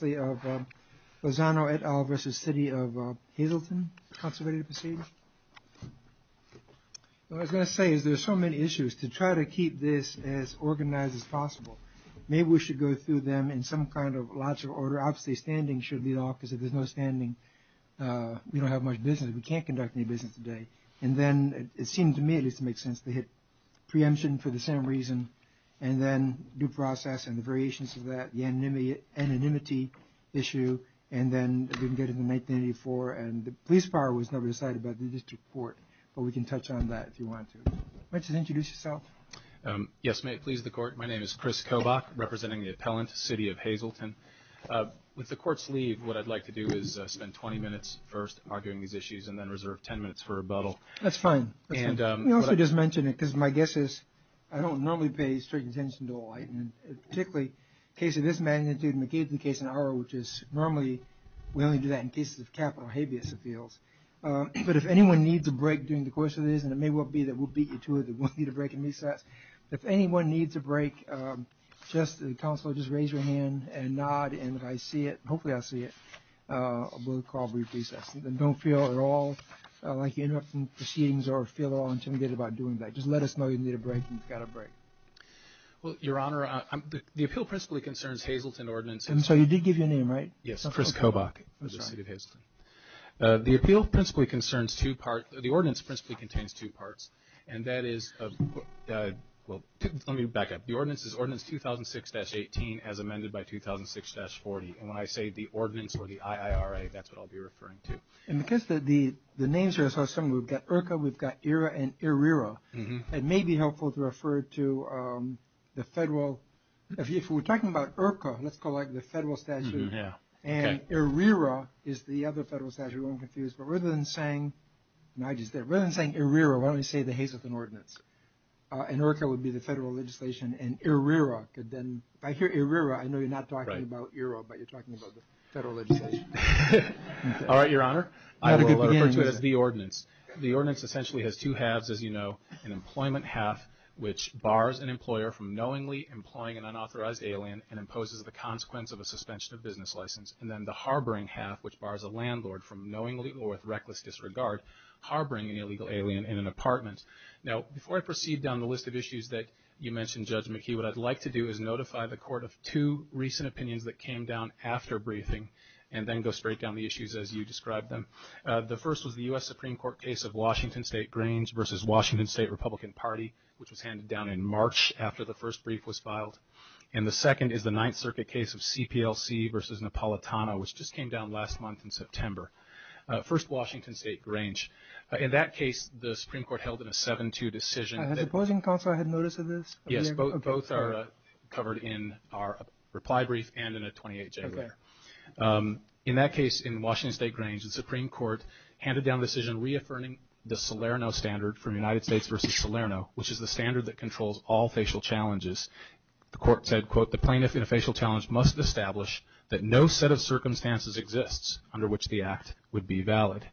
As I say, there are so many issues to try to get to the bottom of, and I'm going to keep this as organized as possible. Maybe we should go through them in some kind of lots of order. Out-of-state standing should be the opposite. There's no standing. We don't have much business. We can't conduct any business today. And then it seemed to me it would make sense to hit preemption for the same reason and then due process and the variations of that, the anonymity issue, and then the police fire was never decided by the district court, but we can touch on that if you want to. Let's introduce yourself. Yes, may it please the court. My name is Chris Kobach, representing the appellant, City of Hazelton. With the court's leave, what I'd like to do is spend 20 minutes first arguing these issues and then reserve 10 minutes for rebuttal. That's fine. Let me also just mention it because my guess is I don't normally pay certain attention to a lot of it, particularly in the case of this magnitude and the case in O'Hara, which is normally we only do that in cases of capital habeas appeals. But if anyone needs a break during the course of this, and it may well be that we'll beat you to it if we need a break and recess, if anyone needs a break, just counsel, just raise your hand and nod, and if I see it, hopefully I see it, we'll call a brief recess. Don't feel at all like you're interrupting proceedings or feel at all intimidated about doing that. Just let us know you need a break and you've got a break. Well, Your Honor, the appeal principally concerns Hazelton Ordinance. And so you did give your name, right? Yes, Chris Kobach. The appeal principally concerns two parts, the ordinance principally contains two parts, and that is, well, let me back up. The ordinance is Ordinance 2006-18 as amended by 2006-40. And when I say the ordinance or the IIRA, that's what I'll be referring to. And because the names are so similar, we've got IRCA, we've got IIRA, and IRRIRA, it may be helpful to refer to the federal – if we're talking about IRCA, let's call it the federal statute, and IRRIRA is the other federal statute, we won't confuse. But rather than saying – and I just did – rather than saying IRRIRA, why don't you say the Hazelton Ordinance? And IRRIRA would be the federal legislation, and IRRIRA could then – if I hear IRRIRA, I know you're not talking about IIRA, but you're talking about the federal legislation. All right, Your Honor. I will refer to it as the ordinance. The ordinance essentially has two halves, as you know. An employment half, which bars an employer from knowingly employing an unauthorized alien and imposes the consequence of a suspension of business license. And then the harboring half, which bars a landlord from knowingly or with reckless disregard harboring an illegal alien in an apartment. Now, before I proceed down the list of issues that you mentioned, Judge McKee, what I'd like to do is notify the Court of two recent opinions that came down after briefing, and then go straight down the issues as you described them. The first was the U.S. Supreme Court case of Washington State Grange v. Washington State Republican Party, which was handed down in March after the first brief was filed. And the second is the Ninth Circuit case of CPLC v. Napolitano, which just came down last month in September. First, Washington State Grange. In that case, the Supreme Court held it a 7-2 decision. I had a closing thought, so I had notice of this. Yes, both are covered in our reply brief and in a 28 January. Okay. In that case, in Washington State Grange, the Supreme Court handed down a decision reaffirming the Salerno standard from United States v. Salerno, which is the standard that controls all facial challenges. The Court said, quote, the plaintiff in a facial challenge must establish that no set of circumstances exists under which the act would be valid.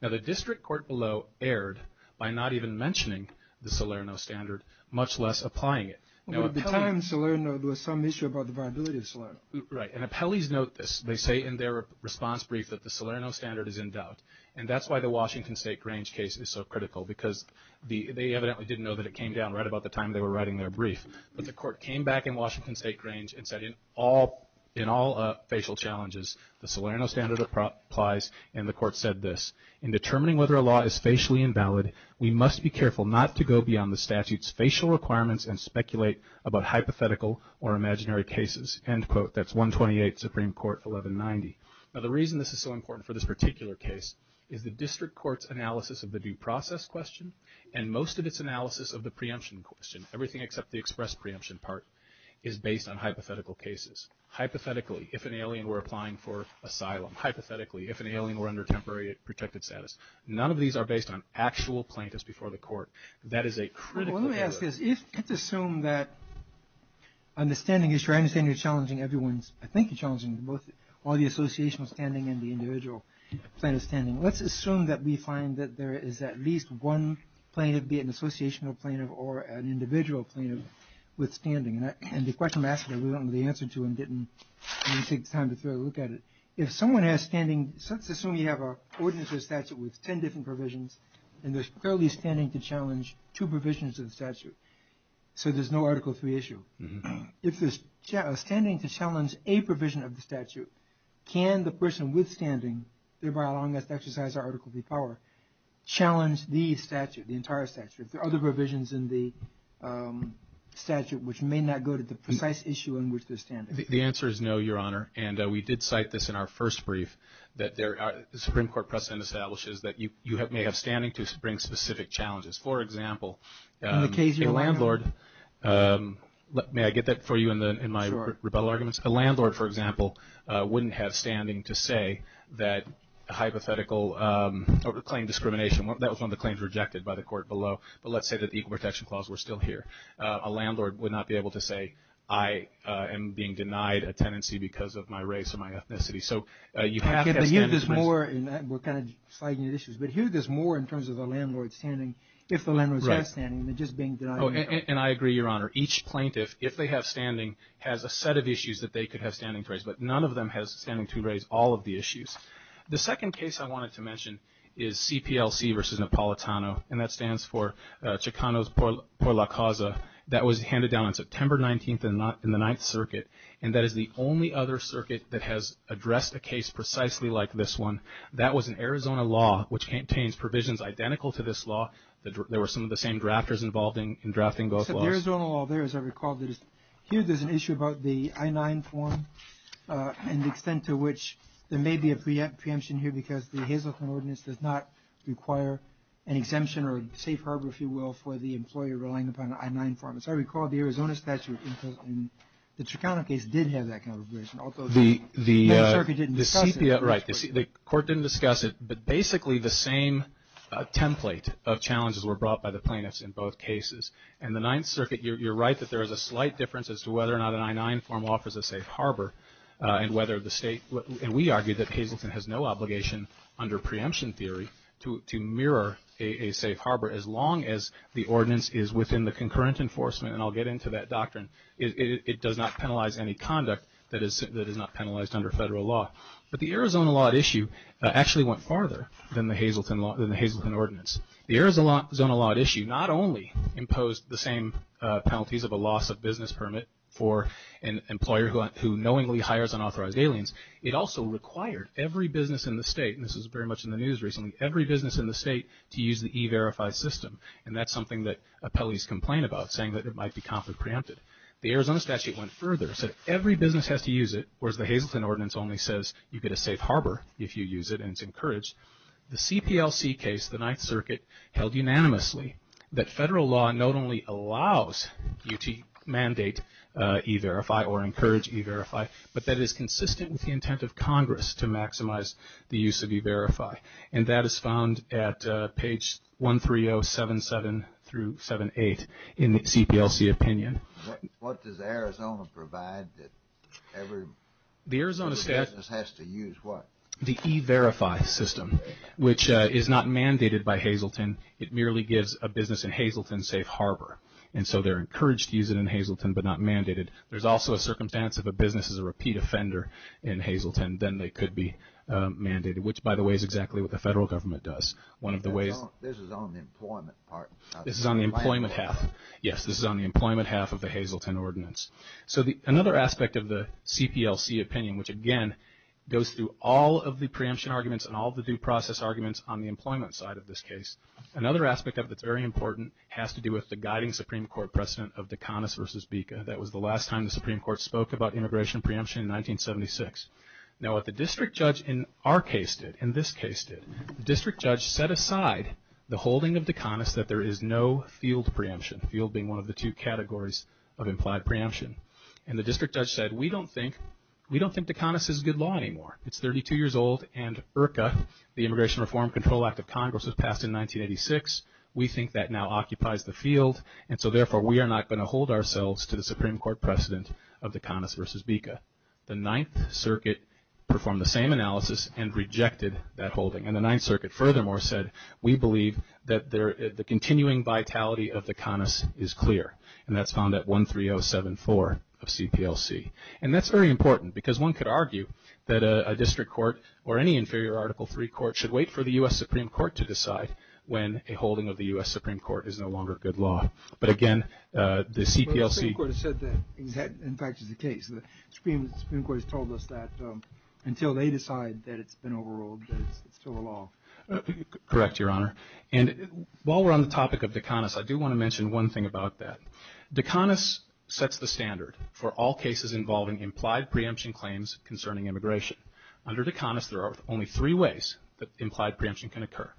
Now, the district court below erred by not even mentioning the Salerno standard, much less applying it. But the time in Salerno, there was some issue about the viability of Salerno. Right. And appellees note this. They say in their response brief that the Salerno standard is in doubt. And that's why the Washington State Grange case is so critical, because they evidently didn't know that it came down right about the time they were writing their brief. But the Court came back in Washington State Grange and said in all facial challenges, the Salerno standard applies. And the Court said this, in determining whether a law is facially invalid, we must be careful not to go beyond the statute's facial requirements and speculate about hypothetical or imaginary cases. End quote. That's 128, Supreme Court 1190. Now, the reason this is so important for this particular case is the district court's analysis of the due process question and most of its analysis of the preemption question. Everything except the express preemption part is based on hypothetical cases. Hypothetically, if an alien were applying for asylum. Hypothetically, if an alien were under temporary protected status. None of these are based on actual plaintiffs before the Court. That is a critical analysis. Let me ask this. Let's assume that understanding is challenging everyone's – I think you're challenging all the associational standing and the individual standing. Let's assume that we find that there is at least one plaintiff, be it an associational plaintiff or an individual plaintiff, with standing. And the question I'm asking, we don't know the answer to and didn't take the time to take a look at it. If someone has standing – let's assume you have an ordinances statute with ten different provisions and there's probably standing to challenge two provisions of the statute. So there's no Article III issue. If there's standing to challenge a provision of the statute, can the person with standing, thereby allowing us to exercise our Article III power, challenge the statute, the entire statute, the other provisions in the statute which may not go to the precise issue in which they're standing? The answer is no, Your Honor. And we did cite this in our first brief that the Supreme Court precedent establishes that you may have standing to spring specific challenges. For example, a landlord – may I get that for you in my rebuttal arguments? A landlord, for example, wouldn't have standing to say that a hypothetical claim discrimination – that was one of the claims rejected by the court below. But let's say that the Equal Protection Clause were still here. A landlord would not be able to say, I am being denied a tenancy because of my race or my ethnicity. But here there's more in terms of a landlord standing if a landlord has standing than just being denied a tenancy. And I agree, Your Honor. Each plaintiff, if they have standing, has a set of issues that they could have standing for. But none of them has standing to raise all of the issues. The second case I wanted to mention is CPLC v. Napolitano. And that stands for Chicanos por la Causa. That was handed down on September 19th in the Ninth Circuit. And that is the only other circuit that has addressed a case precisely like this one. That was an Arizona law which contains provisions identical to this law. There were some of the same drafters involved in drafting both laws. Here there's an issue about the I-9 form and the extent to which there may be a preemption here because the Hazleton Ordinance does not require an exemption or a safe harbor, if you will, for the employer relying upon the I-9 form. As I recall, the Arizona statute in the Chicano case did have that kind of provision. Although the Ninth Circuit didn't discuss it. Right. The court didn't discuss it. But basically the same template of challenges were brought by the plaintiffs in both cases. And the Ninth Circuit, you're right that there is a slight difference as to whether or not an I-9 form offers a safe harbor and whether the state, and we argue that Hazleton has no obligation under preemption theory to mirror a safe harbor. As long as the ordinance is within the concurrent enforcement, and I'll get into that doctrine, it does not penalize any conduct that is not penalized under federal law. But the Arizona law issue actually went farther than the Hazleton Ordinance. The Arizona law issue not only imposed the same penalties of a loss of business permit for an employer who knowingly hires unauthorized aliens, it also required every business in the state, and this was very much in the news recently, every business in the state to use the E-Verify system. And that's something that appellees complain about, saying that it might be conflict preempted. The Arizona statute went further, said every business has to use it, whereas the Hazleton Ordinance only says you get a safe harbor if you use it, and it's encouraged. The CPLC case, the Ninth Circuit, held unanimously that federal law not only allows UT mandate E-Verify or encourage E-Verify, but that it is consistent with the intent of Congress to maximize the use of E-Verify. And that is found at page 13077 through 78 in the CPLC opinion. What does Arizona provide that every business has to use what? The E-Verify system, which is not mandated by Hazleton. It merely gives a business in Hazleton safe harbor, and so they're encouraged to use it in Hazleton but not mandated. There's also a circumstance if a business is a repeat offender in Hazleton, then they could be mandated, which, by the way, is exactly what the federal government does. This is on the employment part. This is on the employment half. Yes, this is on the employment half of the Hazleton Ordinance. So another aspect of the CPLC opinion, which, again, goes through all of the preemption arguments and all of the due process arguments on the employment side of this case, another aspect of it that's very important has to do with the guiding Supreme Court precedent of Dekanis v. Bika. That was the last time the Supreme Court spoke about immigration preemption in 1976. Now what the district judge in our case did, in this case did, the district judge set aside the holding of Dekanis that there is no field preemption, field being one of the two categories of implied preemption. And the district judge said, we don't think Dekanis is good law anymore. It's 32 years old, and IRCA, the Immigration Reform Control Act of Congress, was passed in 1986. We think that now occupies the field, and so therefore we are not going to hold ourselves to the Supreme Court precedent of Dekanis v. Bika. The Ninth Circuit performed the same analysis and rejected that holding. And the Ninth Circuit furthermore said, we believe that the continuing vitality of Dekanis is clear, and that's on that 13074 of CPLC. And that's very important because one could argue that a district court or any inferior Article III court should wait for the U.S. Supreme Court to decide when a holding of the U.S. Supreme Court is no longer good law. But again, the CPLC… In fact, it's the case. The Supreme Court has told us that until they decide that it's been overruled, it's still a law. Correct, Your Honor. And while we're on the topic of Dekanis, I do want to mention one thing about that. Dekanis sets the standard for all cases involving implied preemption claims concerning immigration. Under Dekanis, there are only three ways that implied preemption can occur.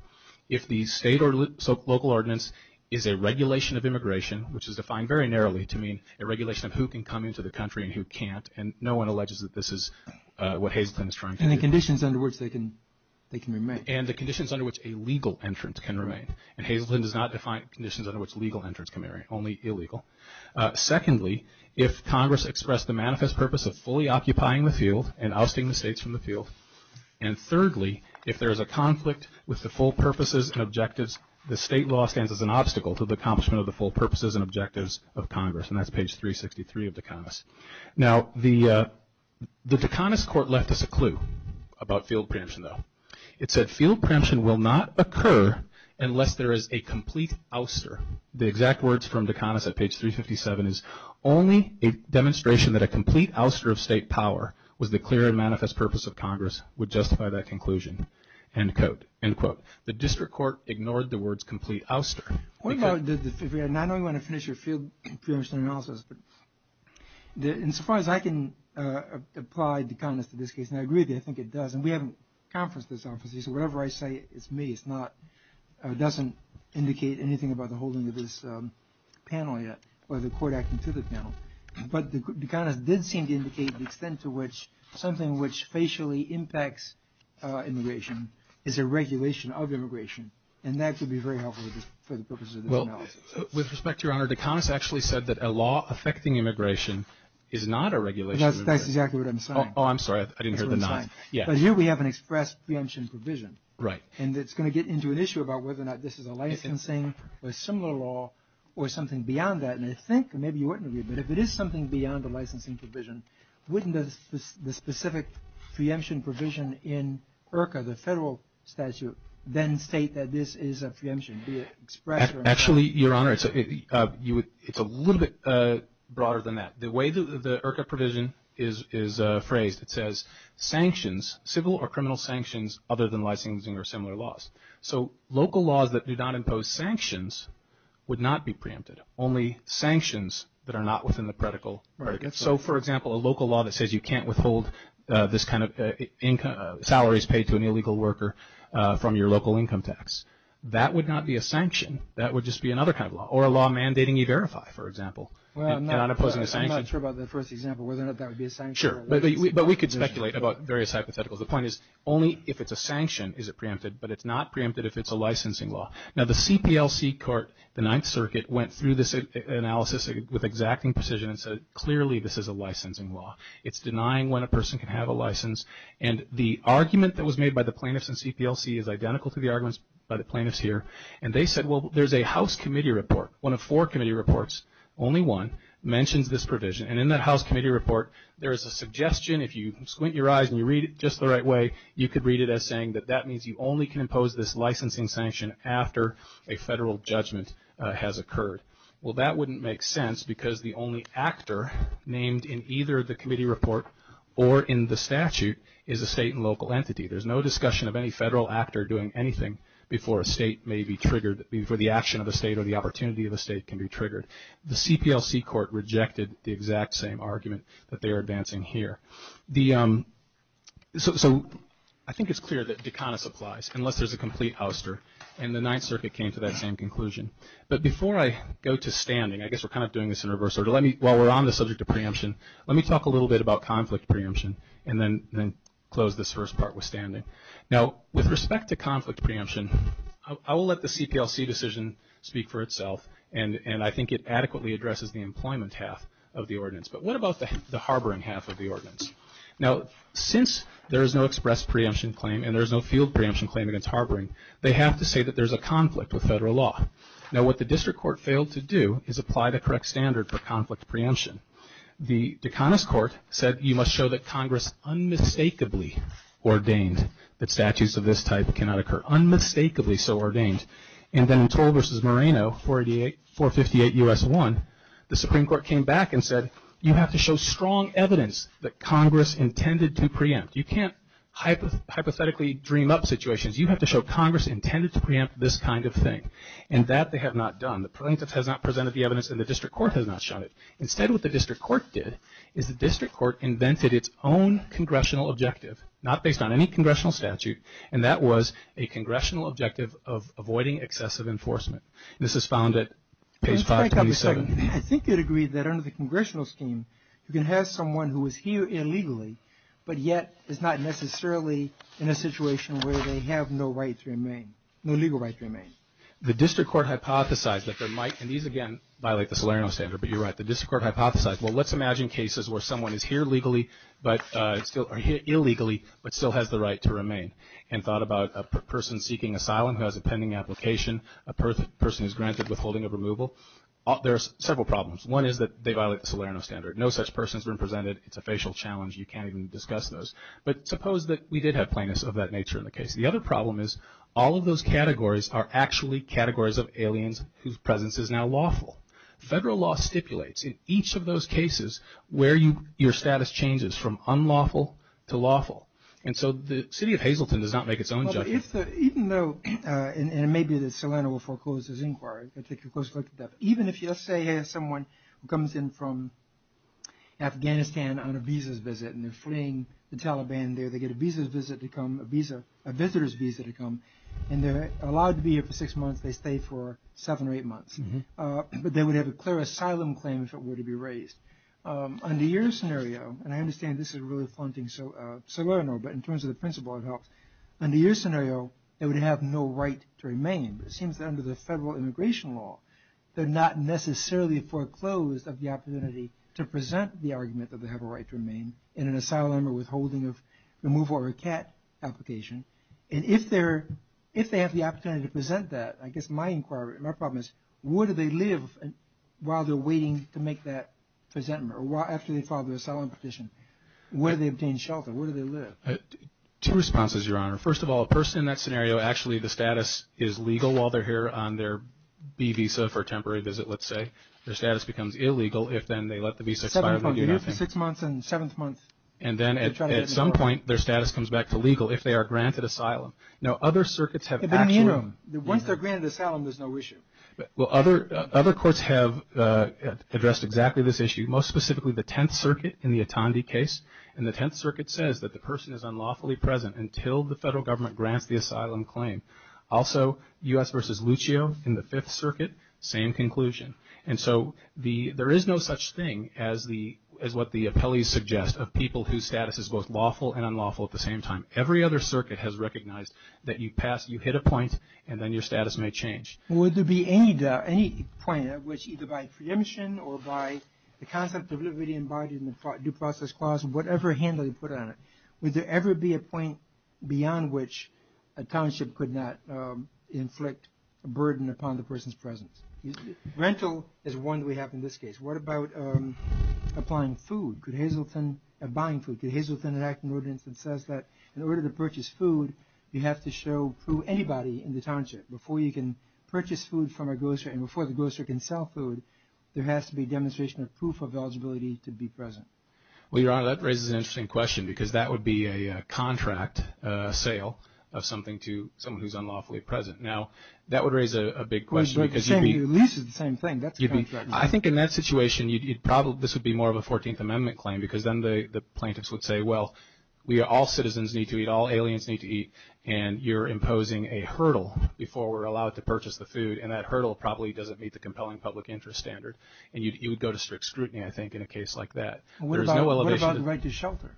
If the state or local ordinance is a regulation of immigration, which is defined very narrowly to mean a regulation of who can come into the country and who can't, and no one alleges that this is what Hazleton is trying to do. And the conditions under which they can remain. And the conditions under which a legal entrance can remain. And Hazleton does not define conditions under which legal entrance can remain, only illegal. Secondly, if Congress expressed the manifest purpose of fully occupying the field and ousting the states from the field. And thirdly, if there is a conflict with the full purposes and objectives, the state law stands as an obstacle to the accomplishment of the full purposes and objectives of Congress. And that's page 363 of Dekanis. Now, the Dekanis court left us a clue about field preemption, though. It said, field preemption will not occur unless there is a complete ouster. The exact words from Dekanis at page 357 is, only a demonstration that a complete ouster of state power was the clear and manifest purpose of Congress would justify that conclusion, end quote. The district court ignored the words complete ouster. I know you want to finish your field preemption analysis. In surprise, I can apply Dekanis to this case. And I agree with you. I think it does. And we haven't conferenced this office. So whatever I say, it's me. It doesn't indicate anything about the holding of this panel yet or the court acting to this panel. But Dekanis did seem to indicate the extent to which something which facially impacts immigration is a regulation of immigration. And that could be very helpful for the purposes of this panel. Well, with respect to your Honor, Dekanis actually said that a law affecting immigration is not a regulation. That's exactly what I'm saying. Oh, I'm sorry. I didn't hear the nine. So here we have an express preemption provision. Right. And it's going to get into an issue about whether or not this is a licensing or similar law or something beyond that. And I think, and maybe you wouldn't agree, but if it is something beyond the licensing provision, wouldn't the specific preemption provision in IRCA, the federal statute, then state that this is a preemption? Actually, your Honor, it's a little bit broader than that. The way the IRCA provision is phrased, it says sanctions, civil or criminal sanctions, other than licensing or similar laws. So local laws that do not impose sanctions would not be preempted. Only sanctions that are not within the predicate. So, for example, a local law that says you can't withhold this kind of salaries paid to an illegal worker from your local income tax. That would not be a sanction. That would just be another kind of law or a law mandating you verify, for example. Well, I'm not sure about the first example, whether or not that would be a sanction. Sure. But we could speculate about various hypotheticals. The point is only if it's a sanction is it preempted, but it's not preempted if it's a licensing law. Now, the CPLC court, the Ninth Circuit, went through this analysis with exacting precision and said clearly this is a licensing law. It's denying when a person can have a license. And the argument that was made by the plaintiffs in CPLC is identical to the arguments by the plaintiffs here. And they said, well, there's a House Committee report, one of four Committee reports, only one, mentioned this provision. And in that House Committee report, there is a suggestion, if you squint your eyes and you read it just the right way, you could read it as saying that that means you only can impose this licensing sanction after a federal judgment has occurred. Well, that wouldn't make sense because the only actor named in either the Committee report or in the statute is a state and local entity. There's no discussion of any federal actor doing anything before a state may be triggered, before the action of the state or the opportunity of the state can be triggered. The CPLC court rejected the exact same argument that they are advancing here. So I think it's clear that Dukakis applies unless there's a complete ouster, and the Ninth Circuit came to that same conclusion. But before I go to standing, I guess we're kind of doing this in reverse order. While we're on the subject of preemption, let me talk a little bit about conflict preemption and then close this first part with standing. Now, with respect to conflict preemption, I will let the CPLC decision speak for itself, and I think it adequately addresses the employment half of the ordinance. But what about the harboring half of the ordinance? Now, since there is no express preemption claim and there is no field preemption claim against harboring, they have to say that there's a conflict with federal law. Now, what the district court failed to do is apply the correct standard for conflict preemption. The Dukakis court said you must show that Congress unmistakably ordained that statutes of this type cannot occur, unmistakably so ordained. And then in Torr v. Moreno, 458 U.S. 1, the Supreme Court came back and said, you have to show strong evidence that Congress intended to preempt. You can't hypothetically dream up situations. You have to show Congress intended to preempt this kind of thing. And that they have not done. The plaintiff has not presented the evidence and the district court has not shown it. Instead, what the district court did is the district court invented its own congressional objective, not based on any congressional statute, and that was a congressional objective of avoiding excessive enforcement. This is found at page 527. Wait a second. I think you'd agree that under the congressional scheme, you can have someone who is here illegally, but yet is not necessarily in a situation where they have no rights to remain, no legal rights to remain. The district court hypothesized that they might. And these, again, violate the Salerno standard, but you're right. The district court hypothesized, well, let's imagine cases where someone is here legally, but still illegally, but still has the right to remain, and thought about a person seeking asylum who has a pending application. A person is granted withholding of removal. There are several problems. One is that they violate the Salerno standard. No such person has been presented. It's a facial challenge. You can't even discuss those. But suppose that we did have plaintiffs of that nature in the case. The other problem is all of those categories are actually categories of aliens whose presence is now lawful. Federal law stipulates in each of those cases where your status changes from unlawful to lawful. And so the city of Hazleton does not make its own judgment. Even though, and it may be that Salerno will foreclose this inquiry, even if you say someone comes in from Afghanistan on a visa's visit and they're fleeing the Taliban there, they get a visa's visit to come, a visitor's visa to come, and they're allowed to be here for six months, they stay for seven or eight months. But they would have a clear asylum claim if it were to be raised. Under your scenario, and I understand this is a really important thing, Salerno, but in terms of the principle of health, under your scenario, they would have no right to remain. But it seems that under the federal immigration law, they're not necessarily foreclosed of the opportunity to present the argument that they have a right to remain in an asylum or withholding of removal or recant application. And if they have the opportunity to present that, I guess my inquiry, my problem is where do they live while they're waiting to make that presentment or after they file the asylum petition? Where do they obtain shelter? Where do they live? Two responses, Your Honor. First of all, a person in that scenario, actually the status is legal while they're here on their B visa for a temporary visit, let's say. Their status becomes illegal if then they let the visa expire. They're here for six months and seventh month. And then at some point, their status comes back to legal if they are granted asylum. Now, other circuits have actually. Once they're granted asylum, there's no issue. Well, other courts have addressed exactly this issue. Most specifically, the Tenth Circuit in the Atandi case. And the Tenth Circuit says that the person is unlawfully present until the federal government grants the asylum claim. Also, U.S. versus Lucio in the Fifth Circuit, same conclusion. And so there is no such thing as what the appellees suggest of people whose status is both lawful and unlawful at the same time. Every other circuit has recognized that you've passed, you've hit a point, and then your status may change. Would there be any point at which either by preemption or by the concept of liberty embodied in the due process clause, whatever hand they put on it, would there ever be a point beyond which a township could not inflict a burden upon the person's presence? Rental is one we have in this case. What about applying food? Could Hazleton, buying food, could Hazleton enact an ordinance that says that? In order to purchase food, you have to prove anybody in the township. Before you can purchase food from a grocer and before the grocer can sell food, there has to be demonstration of proof of eligibility to be present. Well, Your Honor, that raises an interesting question because that would be a contract sale of something to someone who's unlawfully present. Now, that would raise a big question because you'd be – At least it's the same thing. I think in that situation, this would be more of a 14th Amendment claim because then the plaintiffs would say, well, all citizens need to eat, all aliens need to eat, and you're imposing a hurdle before we're allowed to purchase the food, and that hurdle probably doesn't meet the compelling public interest standard, and you would go to strict scrutiny, I think, in a case like that. What about the right to shelter?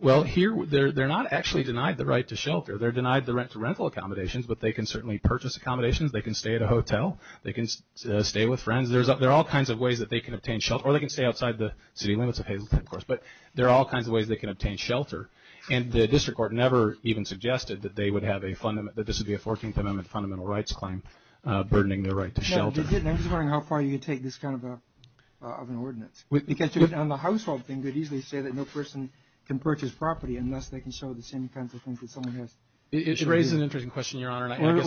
Well, here they're not actually denied the right to shelter. They're denied the right to rental accommodations, but they can certainly purchase accommodations. They can stay at a hotel. They can stay with friends. There are all kinds of ways that they can obtain shelter, or they can stay outside the city limits of Hazleton, of course, but there are all kinds of ways they can obtain shelter, and the district court never even suggested that they would have a fundamental – that this would be a 14th Amendment fundamental rights claim burdening their right to shelter. I'm just wondering how far you'd take this kind of an ordinance because on the household thing, they'd easily say that no person can purchase property unless they can show the same kinds of things that someone has. It raises an interesting question, Your Honor, and I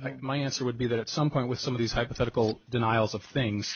think my answer would be that at some point, with some of these hypothetical denials of things,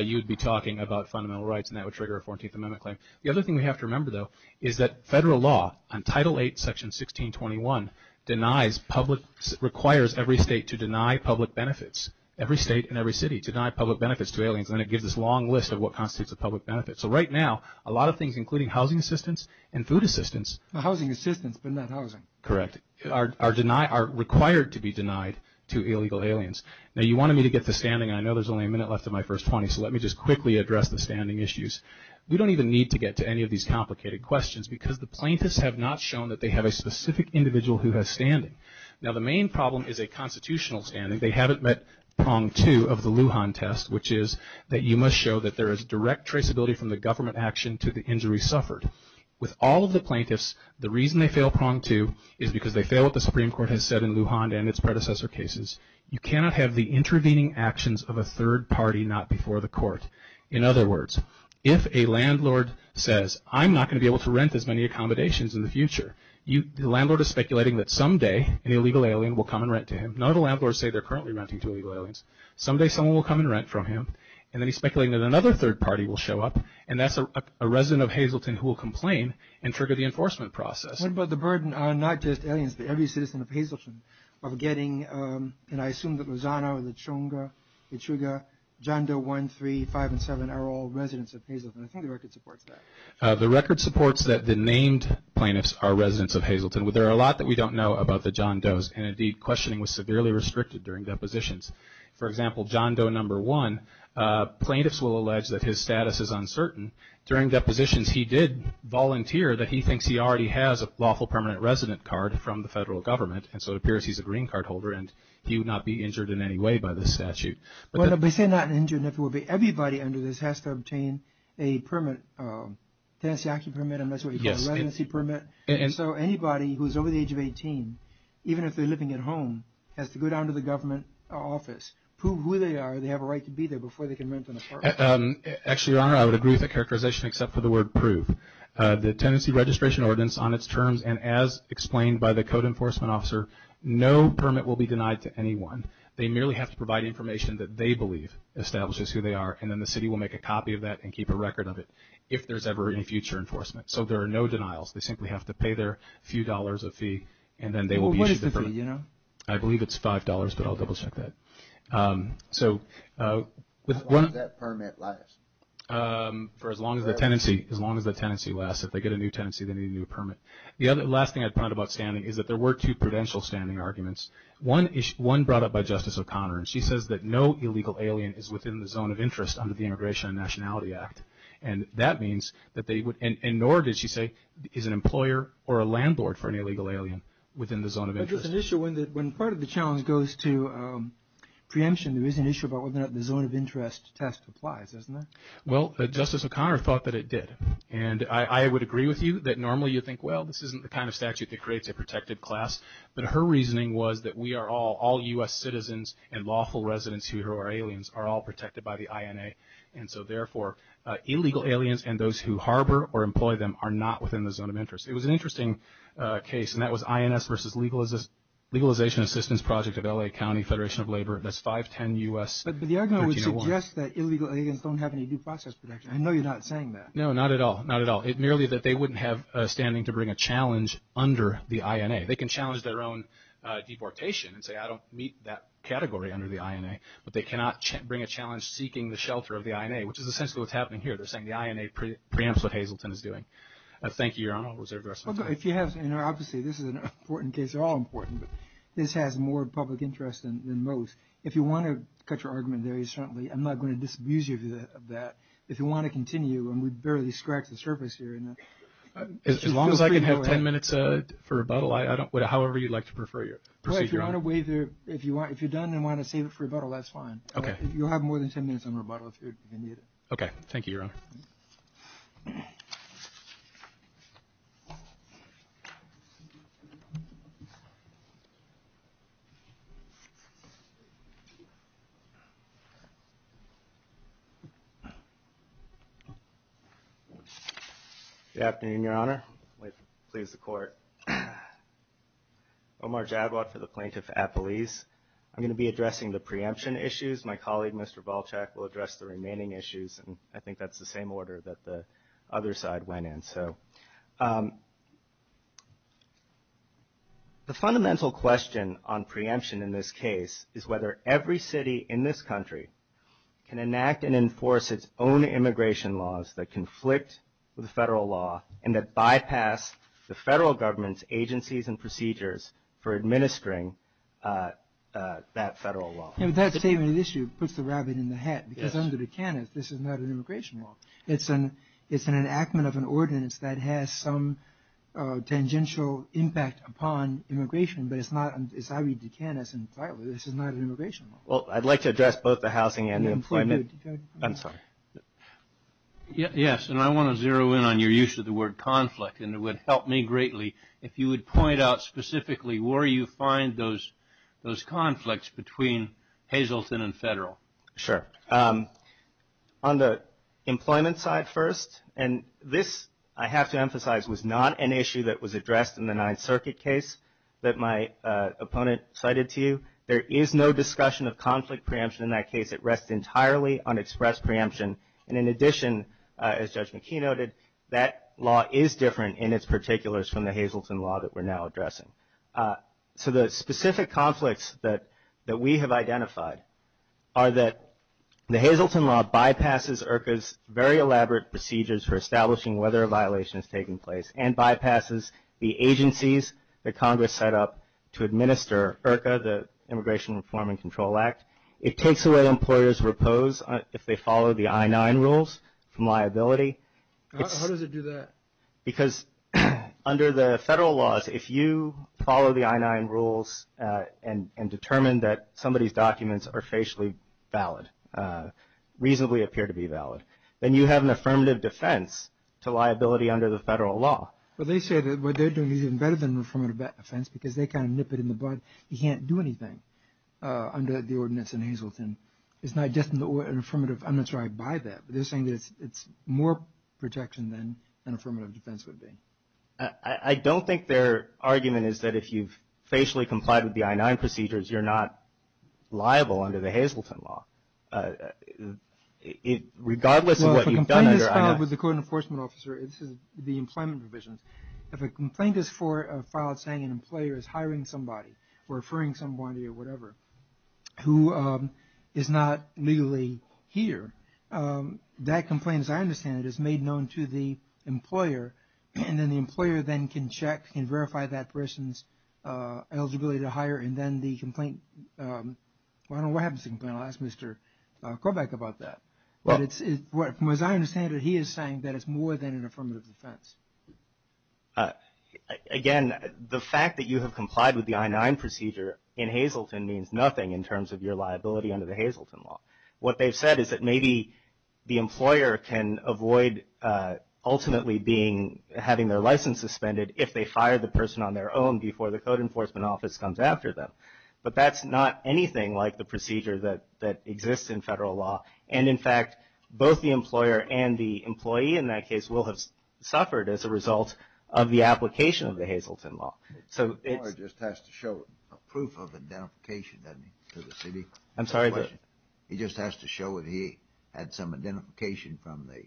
you'd be talking about fundamental rights, and that would trigger a 14th Amendment claim. The other thing we have to remember, though, is that federal law on Title VIII, Section 1621, denies public – requires every state to deny public benefits. Every state and every city deny public benefits to aliens, and it gives this long list of what constitutes a public benefit. So right now, a lot of things, including housing assistance and food assistance – Housing assistance, but not housing. Correct. Are required to be denied to illegal aliens. Now, you wanted me to get to standing, and I know there's only a minute left of my first point, so let me just quickly address the standing issues. We don't even need to get to any of these complicated questions because the plaintiffs have not shown that they have a specific individual who has standing. Now, the main problem is a constitutional standing. They haven't met prong two of the Lujan test, which is that you must show that there is direct traceability from the government action to the injury suffered. With all of the plaintiffs, the reason they fail prong two is because they fail what the Supreme Court has said in Lujan and its predecessor cases. You cannot have the intervening actions of a third party not before the court. In other words, if a landlord says, I'm not going to be able to rent as many accommodations in the future, the landlord is speculating that someday an illegal alien will come and rent to him. None of the landlords say they're currently renting to illegal aliens. Someday someone will come and rent from him, and then he's speculating that another third party will show up, and that's a resident of Hazleton who will complain and trigger the enforcement process. What about the burden on not just aliens, but every citizen of Hazleton of getting, and I assume that Lozano and Lechuga, John Doe 1, 3, 5, and 7 are all residents of Hazleton. I think the record supports that. The record supports that the named plaintiffs are residents of Hazleton. There are a lot that we don't know about the John Does, and indeed questioning was severely restricted during depositions. For example, John Doe number one, plaintiffs will allege that his status is uncertain. During depositions, he did volunteer that he thinks he already has a lawful permanent resident card from the federal government, and so it appears he's a green card holder, and he would not be injured in any way by this statute. But if they're not injured, everybody under this has to obtain a permit, a tenancy action permit, and that's what you call a residency permit. And so anybody who's over the age of 18, even if they're living at home, has to go down to the government office, prove who they are, they have a right to be there before they can rent an apartment. Actually, Your Honor, I would agree with that characterization except for the word prove. The tenancy registration ordinance on its terms, and as explained by the code enforcement officer, no permit will be denied to anyone. They merely have to provide information that they believe establishes who they are, and then the city will make a copy of that and keep a record of it if there's ever any future enforcement. So there are no denials. They simply have to pay their few dollars a fee, and then they will be issued the permit. Well, what is the fee, Your Honor? I believe it's $5, but I'll double-check that. How long does that permit last? For as long as the tenancy lasts. If they get a new tenancy, they need a new permit. The last thing I found about standing is that there were two prudential standing arguments. One brought up by Justice O'Connor, and she says that no illegal alien is within the zone of interest under the Immigration and Nationality Act. And that means that they would – and nor did she say is an employer or a landlord for an illegal alien within the zone of interest. But there's an issue when part of the challenge goes to preemption. There is an issue about whether or not the zone of interest test applies, isn't there? Well, Justice O'Connor thought that it did. And I would agree with you that normally you think, well, this isn't the kind of statute that creates a protected class. But her reasoning was that we are all – all U.S. citizens and lawful residents who are aliens are all protected by the INA. And so, therefore, illegal aliens and those who harbor or employ them are not within the zone of interest. It was an interesting case, and that was INS versus Legalization Assistance Project of L.A. County Federation of Labor. That's 510 U.S. – But the argument would suggest that illegal aliens don't have any due process protection. I know you're not saying that. No, not at all, not at all. It's merely that they wouldn't have standing to bring a challenge under the INA. They can challenge their own deportation and say, I don't meet that category under the INA. But they cannot bring a challenge seeking the shelter of the INA, which is essentially what's happening here. They're saying the INA preempts what Hazleton is doing. Thank you, Your Honor. Was there a question? Obviously, this is an important case. They're all important, but this has more public interest than most. If you want to put your argument very strongly, I'm not going to disabuse you of that. If you want to continue, and we've barely scratched the surface here. As long as I can have ten minutes for rebuttal, however you'd like to proceed, Your Honor. If you're done and want to save it for rebuttal, that's fine. Okay. You'll have more than ten minutes on rebuttal if you need it. Okay. Thank you, Your Honor. Thank you. Good afternoon, Your Honor. Please, the Court. Omar Jadwa for the Plaintiff's Appeals. I'm going to be addressing the preemption issues. My colleague, Mr. Volchak, will address the remaining issues. I think that's the same order that the other side went in. So the fundamental question on preemption in this case is whether every city in this country can enact and enforce its own immigration laws that conflict with federal law and that bypass the federal government's agencies and procedures for administering that federal law. That same issue puts the rabbit in the hat, because under the canons, this is not an immigration law. It's an enactment of an ordinance that has some tangential impact upon immigration, but it's not, as I read the canons entirely, this is not an immigration law. Well, I'd like to address both the housing and employment. I'm sorry. Yes, and I want to zero in on your use of the word conflict, and it would help me greatly if you would point out specifically where you find those conflicts between Hazleton and federal. Sure. On the employment side first, and this, I have to emphasize, was not an issue that was addressed in the Ninth Circuit case that my opponent cited to you. There is no discussion of conflict preemption in that case. It rests entirely on express preemption. And in addition, as Judge McKee noted, that law is different in its particulars from the Hazleton law that we're now addressing. So the specific conflicts that we have identified are that the Hazleton law bypasses IRCA's very elaborate procedures for establishing whether a violation is taking place and bypasses the agencies that Congress set up to administer IRCA, the Immigration Reform and Control Act. It takes away employers' repose if they follow the I-9 rules from liability. How does it do that? Because under the federal laws, if you follow the I-9 rules and determine that somebody's documents are facially valid, reasonably appear to be valid, then you have an affirmative defense to liability under the federal law. Well, they say that what they're doing is even better than an affirmative defense because they kind of nip it in the bud. You can't do anything under the ordinance in Hazleton. It's not just an affirmative. I'm not sure I buy that, but they're saying that it's more protection than an affirmative defense would be. I don't think their argument is that if you've facially complied with the I-9 procedures, you're not liable under the Hazleton law. Regardless of what you've done under I-9. Well, if a complaint is filed with the code enforcement officer, it's the employment provisions. If a complaint is filed saying an employer is hiring somebody or referring somebody or whatever who is not legally here, that complaint, as I understand it, is made known to the employer, and then the employer then can check and verify that person's eligibility to hire, and then the complaint – I don't know what happens to the complaint. I'll ask Mr. Corbett about that. From what I understand it, he is saying that it's more than an affirmative defense. Again, the fact that you have complied with the I-9 procedure in Hazleton means nothing in terms of your liability under the Hazleton law. What they've said is that maybe the employer can avoid ultimately having their license suspended if they fire the person on their own before the code enforcement office comes after them. But that's not anything like the procedure that exists in federal law. And, in fact, both the employer and the employee, in that case, will have suffered as a result of the application of the Hazleton law. The employer just has to show a proof of identification, doesn't he, to the city? I'm sorry? He just has to show that he had some identification from the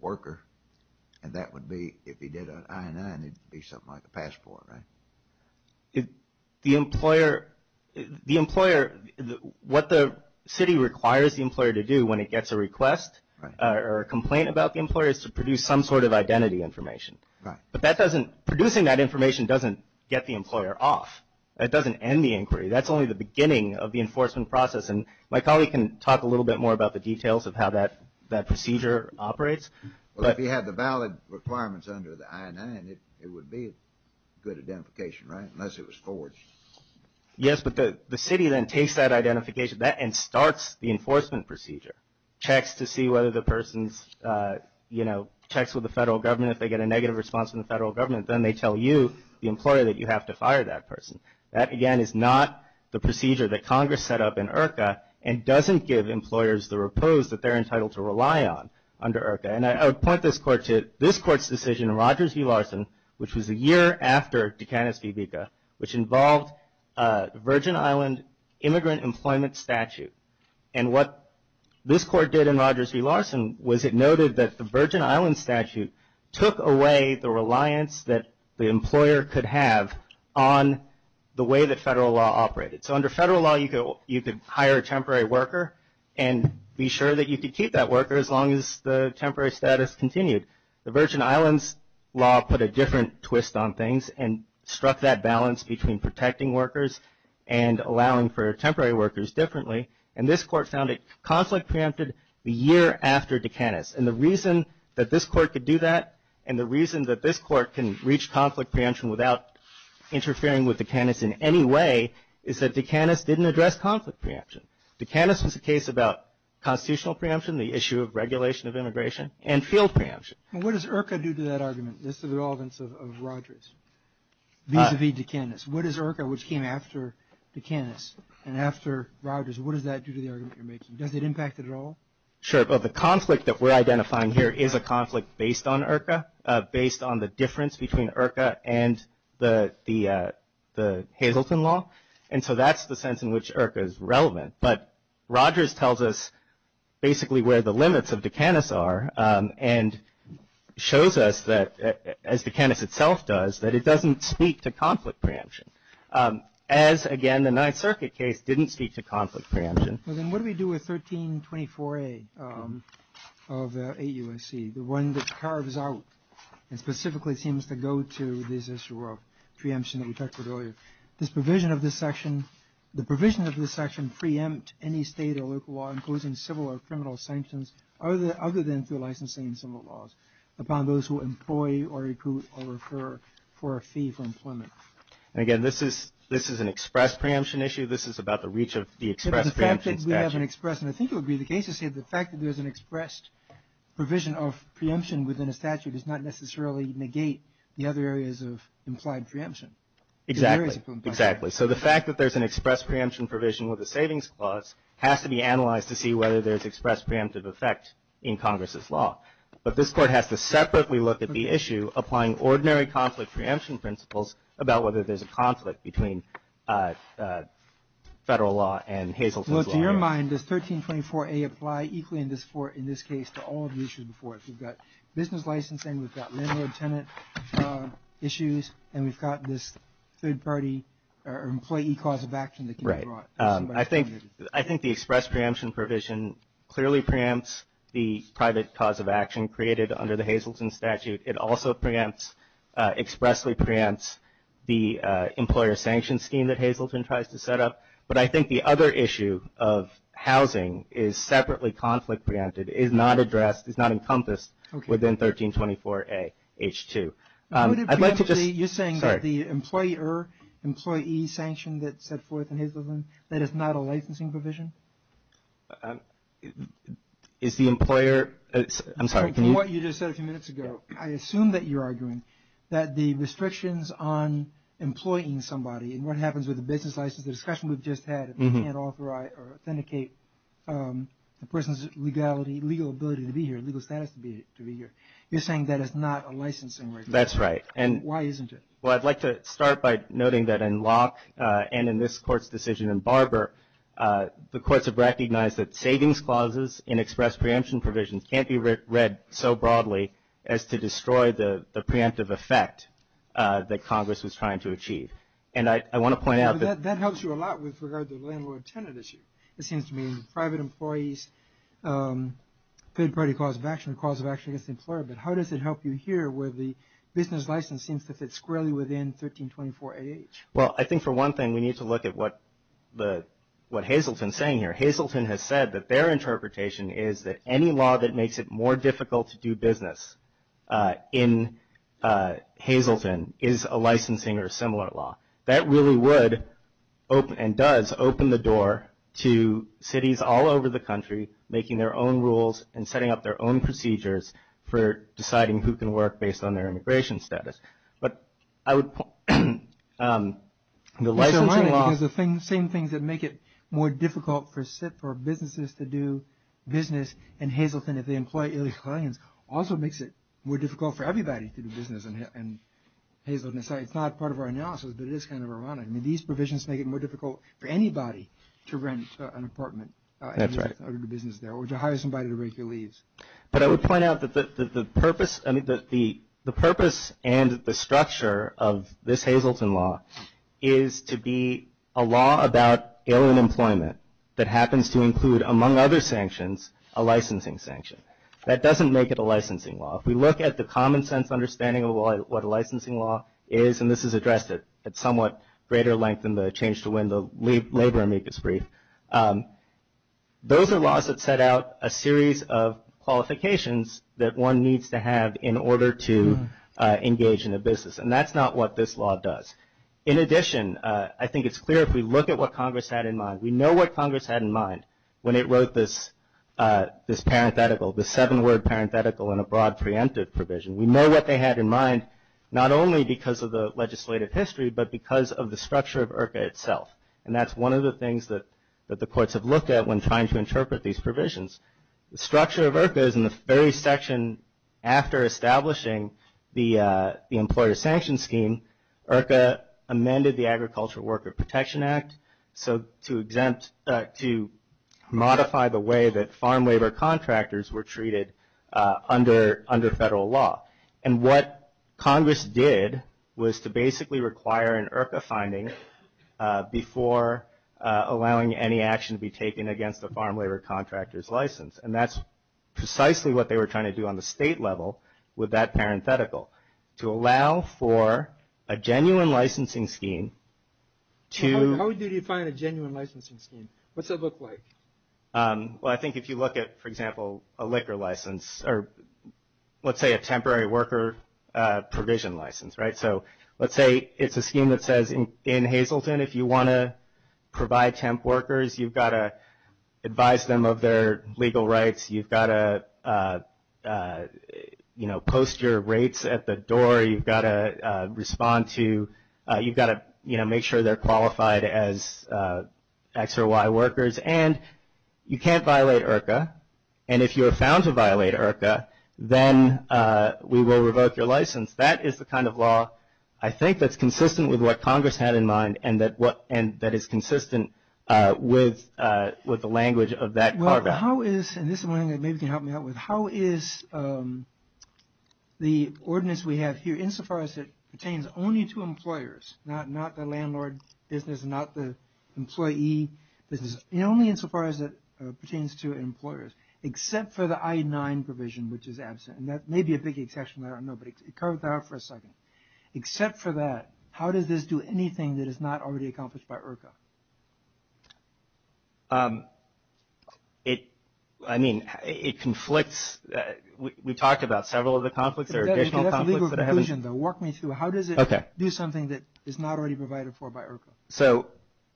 worker, and that would be – if he did an I-9, it would be something like a passport, right? The employer – what the city requires the employer to do when it gets a request or a complaint about the employer is to produce some sort of identity information. But that doesn't – producing that information doesn't get the employer off. It doesn't end the inquiry. That's only the beginning of the enforcement process. And my colleague can talk a little bit more about the details of how that procedure operates. Well, if he had the valid requirements under the I-9, it would be a good identification, right, unless it was forged. Yes, but the city then takes that identification and starts the enforcement procedure, checks to see whether the person's – you know, checks with the federal government. If they get a negative response from the federal government, then they tell you, the employer, that you have to fire that person. That, again, is not the procedure that Congress set up in IRCA and doesn't give employers the repose that they're entitled to rely on under IRCA. And I'll point this court to this court's decision in Rogers v. Larson, which was a year after Dukakis v. Bika, which involved Virgin Island immigrant employment statute. And what this court did in Rogers v. Larson was it noted that the Virgin Island statute took away the reliance that the employer could have on the way that federal law operated. So under federal law, you could hire a temporary worker and be sure that you could keep that worker as long as the temporary status continued. The Virgin Islands law put a different twist on things and struck that balance between protecting workers and allowing for temporary workers differently. And this court found it conflict preempted a year after Dukakis. And the reason that this court could do that and the reason that this court can reach conflict preemption without interfering with Dukakis in any way is that Dukakis didn't address conflict preemption. Dukakis is a case about constitutional preemption, the issue of regulation of immigration, and field preemption. And what does IRCA do to that argument? This is the relevance of Rogers v. Dukakis. What is IRCA, which came after Dukakis and after Rogers? What does that do to the argument you're making? Does it impact it at all? Sure, but the conflict that we're identifying here is a conflict based on IRCA, based on the difference between IRCA and the Hazelton law. And so that's the sense in which IRCA is relevant. But Rogers tells us basically where the limits of Dukakis are and shows us that, as Dukakis itself does, that it doesn't speak to conflict preemption, as, again, the Ninth Circuit case didn't speak to conflict preemption. Well, then what do we do with 1324A of 8 U.S.C., the one that carves out and specifically seems to go to this issue of preemption that we touched on earlier? Does the provision of this section preempt any state or local law, including civil or criminal sanctions, other than through licensing and civil laws, upon those who employ or recruit or refer for a fee for employment? And, again, this is an express preemption issue. This is about the reach of the express preemption statute. But the fact that we have an express, and I think it would be the case to say the fact that there's an express provision of preemption within a statute does not necessarily negate the other areas of implied preemption. Exactly, exactly. So the fact that there's an express preemption provision with a savings clause has to be analyzed to see whether there's express preemptive effect in Congress's law. But this Court has to separately look at the issue, applying ordinary conflict preemption principles, about whether there's a conflict between federal law and Hazelton's law. Well, to your mind, does 1324A apply equally in this case to all of the issues before it? We've got business licensing, we've got landlord-tenant issues, and we've got this third-party employee cause of action that can be brought. Right. I think the express preemption provision clearly preempts the private cause of action created under the Hazelton statute. It also expressly preempts the employer sanction scheme that Hazelton tries to set up. But I think the other issue of housing is separately conflict preemptive, is not addressed, is not encompassed within 1324A-H2. You're saying that the employee sanction that's set forth in Hazelton, that is not a licensing provision? Is the employer – I'm sorry. From what you just said a few minutes ago, I assume that you're arguing that the restrictions on employing somebody and what happens with the business license, the discussion we've just had, you can't authorize or authenticate the person's legal ability to be here, legal status to be here. You're saying that is not a licensing provision? That's right. Why isn't it? Well, I'd like to start by noting that in Locke and in this court's decision in Barber, the courts have recognized that savings clauses and express preemption provisions can't be read so broadly as to destroy the preemptive effect that Congress is trying to achieve. And I want to point out that – That helps you a lot with regard to the landlord-tenant issue. It seems to me private employees, third-party cause of action, cause of action against the employer. But how does it help you here where the business license seems to fit squarely within 1324A-H? Well, I think for one thing we need to look at what Hazleton is saying here. Hazleton has said that their interpretation is that any law that makes it more difficult to do business in Hazleton is a licensing or similar law. That really would and does open the door to cities all over the country making their own rules and setting up their own procedures for deciding who can work based on their immigration status. But I would – The licensing law – The same things that make it more difficult for businesses to do business in Hazleton if they employ other clients also makes it more difficult for everybody to do business in Hazleton. So it's not part of our analysis, but it is kind of ironic. I mean, these provisions make it more difficult for anybody to rent an apartment. That's right. Under the business there or to hire somebody to rent your lease. But I would point out that the purpose and the structure of this Hazleton law is to be a law about alien employment that happens to include, among other sanctions, a licensing sanction. That doesn't make it a licensing law. If we look at the common sense understanding of what a licensing law is, and this is addressed at somewhat greater length in the Change to Win the Labor Amicus Brief, those are laws that set out a series of qualifications that one needs to have in order to engage in a business. And that's not what this law does. In addition, I think it's clear if we look at what Congress had in mind. We know what Congress had in mind when it wrote this parenthetical, the seven-word parenthetical in a broad preemptive provision. We know what they had in mind not only because of the legislative history, but because of the structure of IRCA itself. And that's one of the things that the courts have looked at when trying to interpret these provisions. The structure of IRCA is in the very section after establishing the employer sanction scheme, IRCA amended the Agricultural Worker Protection Act to modify the way that farm labor contractors were treated under federal law. And what Congress did was to basically require an IRCA finding before allowing any action to be taken against a farm labor contractor's license. And that's precisely what they were trying to do on the state level with that parenthetical, to allow for a genuine licensing scheme to – How would you define a genuine licensing scheme? What's it look like? Well, I think if you look at, for example, a liquor license or let's say a temporary worker provision license, right? So let's say it's a scheme that says in Hazleton if you want to provide temp workers, you've got to advise them of their legal rights. You've got to, you know, post your rates at the door. You've got to respond to – you've got to, you know, make sure they're qualified as X or Y workers. And you can't violate IRCA. And if you are found to violate IRCA, then we will revoke your license. That is the kind of law I think that's consistent with what Congress had in mind and that is consistent with the language of that paragraph. How is – and this is one thing that maybe you can help me out with. And only insofar as it pertains to employers, except for the I-9 provision, which is absent. And that may be a big exception. I don't know. But it comes out for a second. Except for that, how does this do anything that is not already accomplished by IRCA? It – I mean, it conflicts. We talked about several of the conflicts. There are additional conflicts. How does it do something that is not already provided for by IRCA? So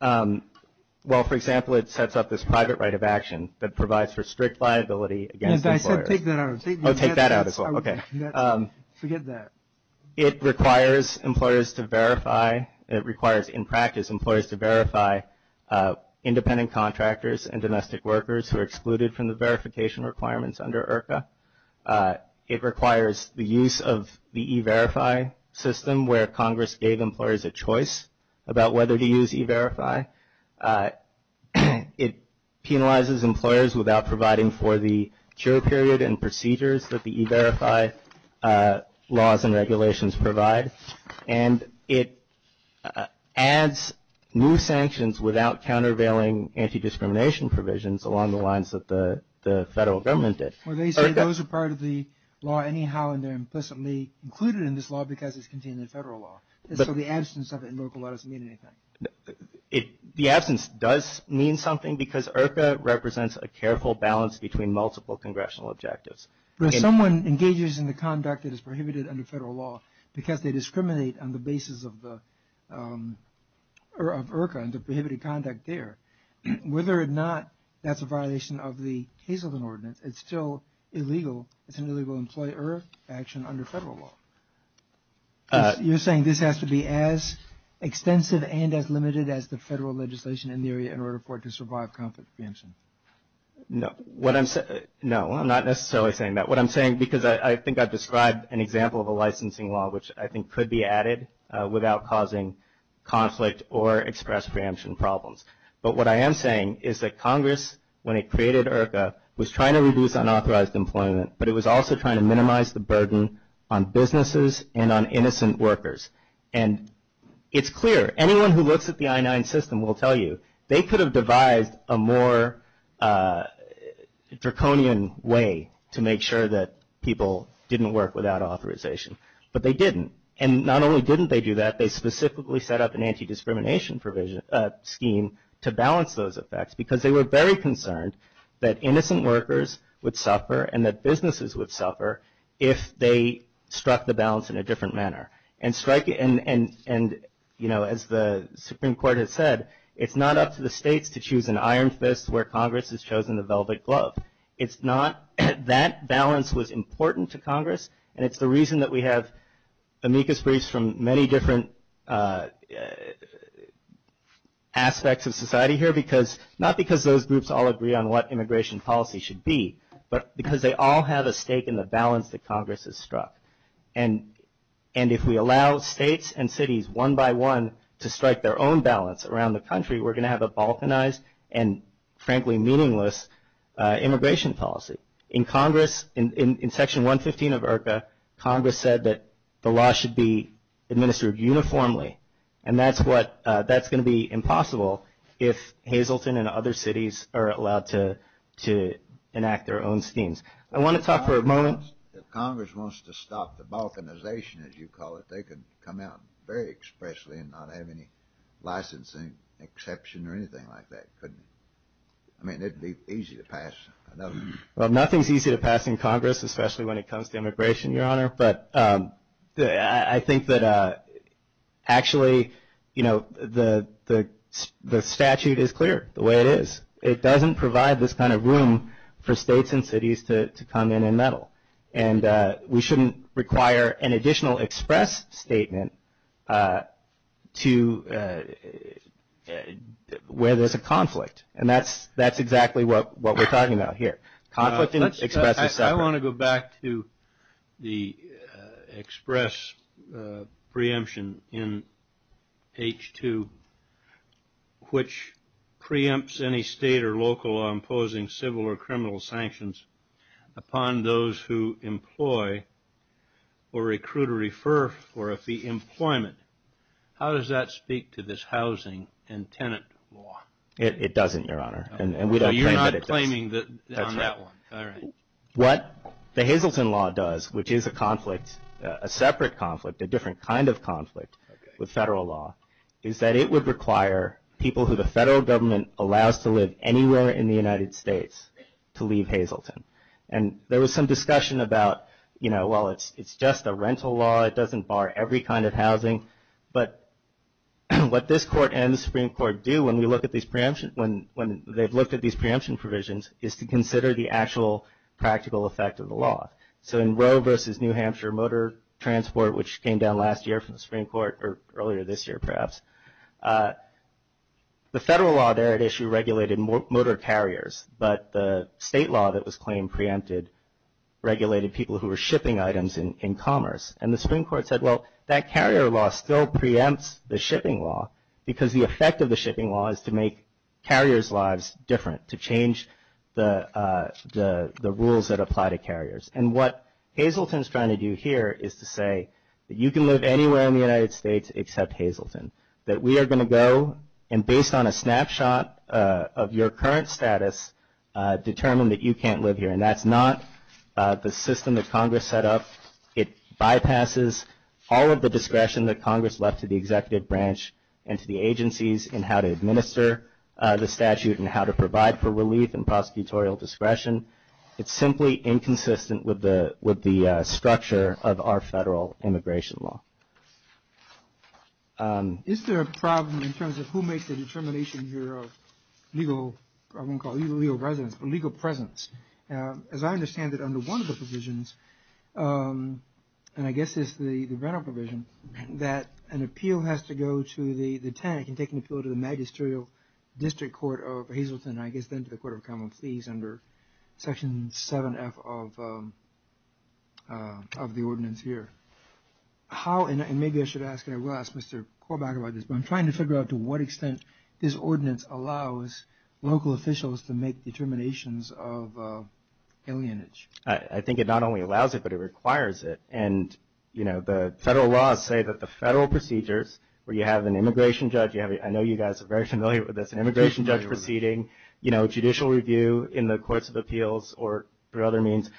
while, for example, it sets up this private right of action that provides for strict liability against employers. Take that out as well. Oh, take that out as well. Okay. Forget that. It requires employers to verify – it requires in practice employers to verify independent contractors and domestic workers who are excluded from the verification requirements under IRCA. It requires the use of the e-verify system where Congress gave employers a choice about whether to use e-verify. It penalizes employers without providing for the jury period and procedures that the e-verify laws and regulations provide. And it adds new sanctions without countervailing anti-discrimination provisions along the lines that the federal government did. So those are part of the law anyhow and they're implicitly included in this law because it's contained in the federal law. So the absence of it in local law doesn't mean anything. The absence does mean something because IRCA represents a careful balance between multiple congressional objectives. If someone engages in the conduct that is prohibited under federal law because they discriminate on the basis of IRCA and the prohibited conduct there, whether or not that's a violation of the Hazleton Ordinance, it's still illegal. It's an illegal employer action under federal law. You're saying this has to be as extensive and as limited as the federal legislation in the area in order for it to survive conflict prevention? No. What I'm – no, I'm not necessarily saying that. That's not what I'm saying because I think I've described an example of a licensing law, which I think could be added without causing conflict or express preemption problems. But what I am saying is that Congress, when it created IRCA, was trying to reduce unauthorized employment, but it was also trying to minimize the burden on businesses and on innocent workers. And it's clear, anyone who looks at the I-9 system will tell you they could have devised a more draconian way to make sure that people didn't work without authorization, but they didn't. And not only didn't they do that, they specifically set up an anti-discrimination scheme to balance those effects because they were very concerned that innocent workers would suffer and that businesses would suffer if they struck the balance in a different manner and strike it – and, you know, as the Supreme Court has said, it's not up to the states to choose an iron fist where Congress has chosen a velvet glove. It's not – that balance was important to Congress, and it's the reason that we have amicus briefs from many different aspects of society here, because – not because those groups all agree on what immigration policy should be, but because they all have a stake in the balance that Congress has struck. And if we allow states and cities one by one to strike their own balance around the country, we're going to have a balkanized and, frankly, meaningless immigration policy. In Congress – in Section 115 of IRCA, Congress said that the law should be administered uniformly, and that's what – that's going to be impossible if Hazleton and other cities are allowed to enact their own schemes. I want to talk for a moment – if Congress wants to stop the balkanization, as you call it, they could come out very expressly and not have any licensing exception or anything like that. I mean, it would be easy to pass. Well, nothing's easy to pass in Congress, especially when it comes to immigration, Your Honor. But I think that actually, you know, the statute is clear the way it is. It doesn't provide this kind of room for states and cities to come in and meddle. And we shouldn't require an additional express statement to – where there's a conflict. And that's exactly what we're talking about here. I want to go back to the express preemption in H-2, which preempts any state or local law imposing civil or criminal sanctions upon those who employ or recruit or refer for a fee employment. How does that speak to this housing and tenant law? It doesn't, Your Honor. You're not claiming on that one. What the Hazleton law does, which is a conflict, a separate conflict, a different kind of conflict with federal law, is that it would require people who the federal government allows to live anywhere in the United States to leave Hazleton. And there was some discussion about, you know, well, it's just a rental law. It doesn't bar every kind of housing. But what this court and the Supreme Court do when they've looked at these preemption provisions is to consider the actual practical effect of the law. So in Roe v. New Hampshire Motor Transport, which came down last year from the Supreme Court or earlier this year perhaps, the federal law there at issue regulated motor carriers, but the state law that was claimed preempted regulated people who were shipping items in commerce. And the Supreme Court said, well, that carrier law still preempts the shipping law because the effect of the shipping law is to make carriers' lives different, to change the rules that apply to carriers. And what Hazleton is trying to do here is to say that you can live anywhere in the United States except Hazleton, that we are going to go and, based on a snapshot of your current status, determine that you can't live here. And that's not the system that Congress set up. It bypasses all of the discretion that Congress left to the executive branch and to the agencies in how to administer the statute and how to provide for relief and prosecutorial discretion. It's simply inconsistent with the structure of our federal immigration law. Is there a problem in terms of who makes the determination here of legal presence? As I understand it, under one of the provisions, and I guess it's the general provision, that an appeal has to go to the TANC and take an appeal to the Magisterial District Court of Hazleton, I guess then to the Court of Common Pleas under Section 7F of the ordinance here. And maybe I should ask, and I will ask Mr. Korbach about this, but I'm trying to figure out to what extent this ordinance allows local officials to make determinations of alienage. I think it not only allows it, but it requires it. And the federal laws say that the federal procedures, where you have an immigration judge, I know you guys are very familiar with this, an immigration judge proceeding, judicial review in the courts of appeals or through other means,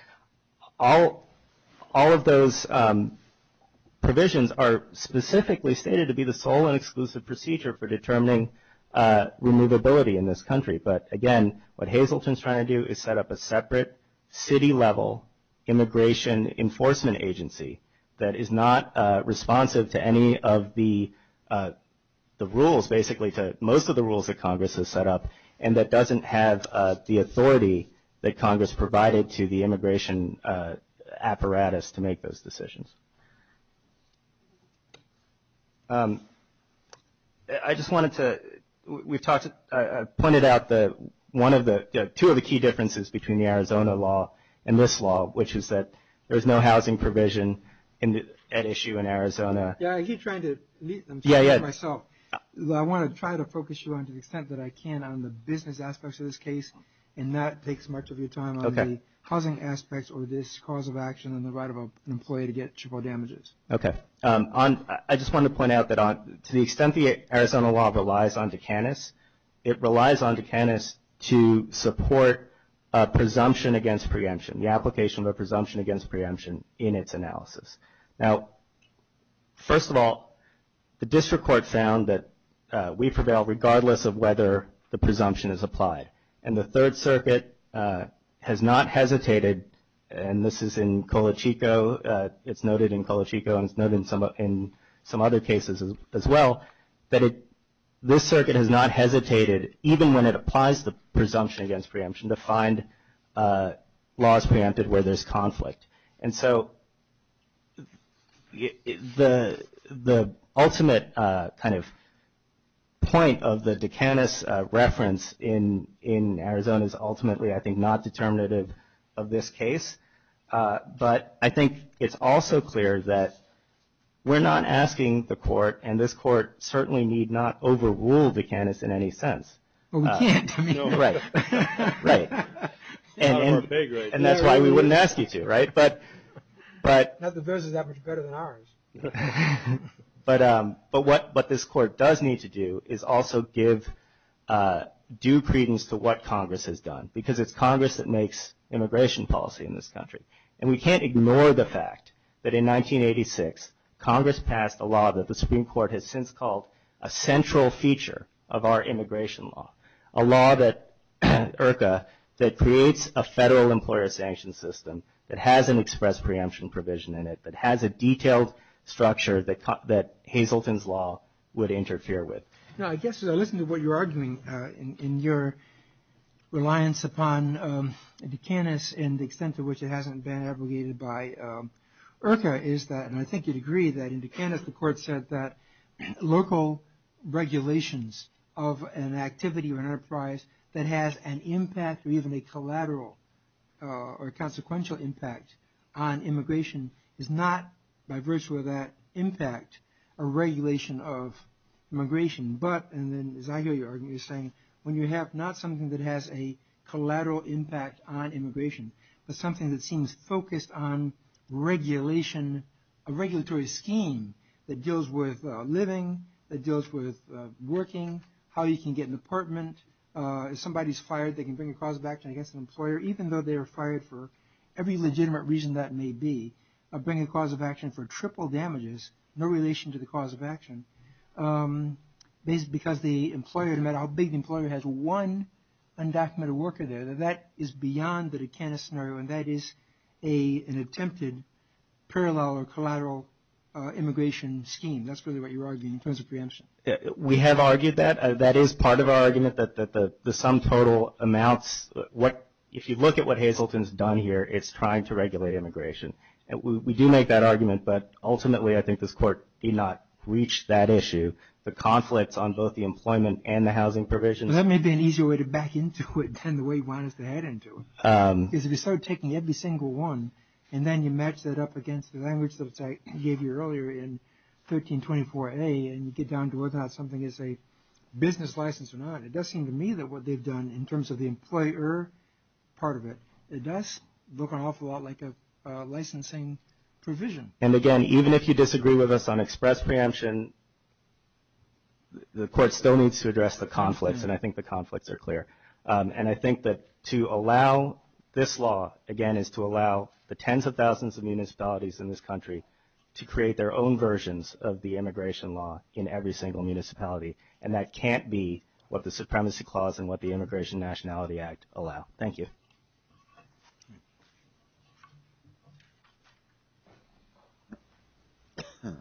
all of those provisions are specifically stated to be the sole and exclusive procedure for determining removability in this country. But, again, what Hazleton is trying to do is set up a separate city-level immigration enforcement agency that is not responsive to any of the rules, basically to most of the rules that Congress has set up, and that doesn't have the authority that Congress provided to the immigration apparatus to make those decisions. I just wanted to point out two of the key differences between the Arizona law and this law, which is that there's no housing provision at issue in Arizona. Yeah, you're trying to lead them. Yeah, yeah. So I want to try to focus you on to the extent that I can on the business aspects of this case, and that takes much of your time on the housing aspects or this cause of action Okay. I just wanted to point out that to the extent the Arizona law relies on Duqanis, it relies on Duqanis to support a presumption against preemption, the application of a presumption against preemption in its analysis. Now, first of all, the district courts found that we prevail regardless of whether the presumption is applied, and the Third Circuit has not hesitated, and this is in Colachico. It's noted in Colachico, and it's noted in some other cases as well, that this circuit has not hesitated even when it applies the presumption against preemption to find laws preempted where there's conflict. And so the ultimate kind of point of the Duqanis reference in Arizona is ultimately, I think, not determinative of this case, but I think it's also clear that we're not asking the court, and this court certainly need not overrule Duqanis in any sense. Well, we can't. Right, right. And that's why we wouldn't ask you to, right? Not that theirs is that much better than ours. But what this court does need to do is also give due credence to what Congress has done, because it's Congress that makes immigration policy in this country, and we can't ignore the fact that in 1986 Congress passed a law that the Supreme Court has since called a central feature of our immigration law, a law that creates a federal employer sanction system that has an express preemption provision in it, that has a detailed structure that Hazelton's law would interfere with. I guess as I listen to what you're arguing in your reliance upon Duqanis and the extent to which it hasn't been abrogated by IRCA is that, in Duqanis the court said that local regulations of an activity or an enterprise that has an impact or even a collateral or consequential impact on immigration is not, by virtue of that impact, a regulation of immigration. But, and then as I hear you arguing, you're saying when you have not something that has a collateral impact on immigration, but something that seems focused on regulation, a regulatory scheme that deals with living, that deals with working, how you can get an apartment. If somebody's fired, they can bring a cause of action against an employer, even though they were fired for every legitimate reason that may be, bring a cause of action for triple damages, no relation to the cause of action, because the employer, no matter how big the employer, has one undocumented worker there. That is beyond the Duqanis scenario, and that is an attempted parallel or collateral immigration scheme. That's really what you're arguing in terms of preemption. We have argued that. That is part of our argument, that the sum total amounts, if you look at what Hazleton's done here, it's trying to regulate immigration. We do make that argument, but ultimately I think this court did not reach that issue, the conflict on both the employment and the housing provisions. That may be an easier way to back into it than the way you wanted us to head into it, because if you start taking every single one, and then you match that up against the language that I gave you earlier in 1324A, and you get down to whether that's something that's a business license or not, it does seem to me that what they've done in terms of the employer part of it, it does look an awful lot like a licensing provision. And, again, even if you disagree with us on express preemption, the court still needs to address the conflict, and I think the conflicts are clear. And I think that to allow this law, again, is to allow the tens of thousands of municipalities in this country to create their own versions of the immigration law in every single municipality, and that can't be what the Supremacy Clause and what the Immigration Nationality Act allow. Thank you. Good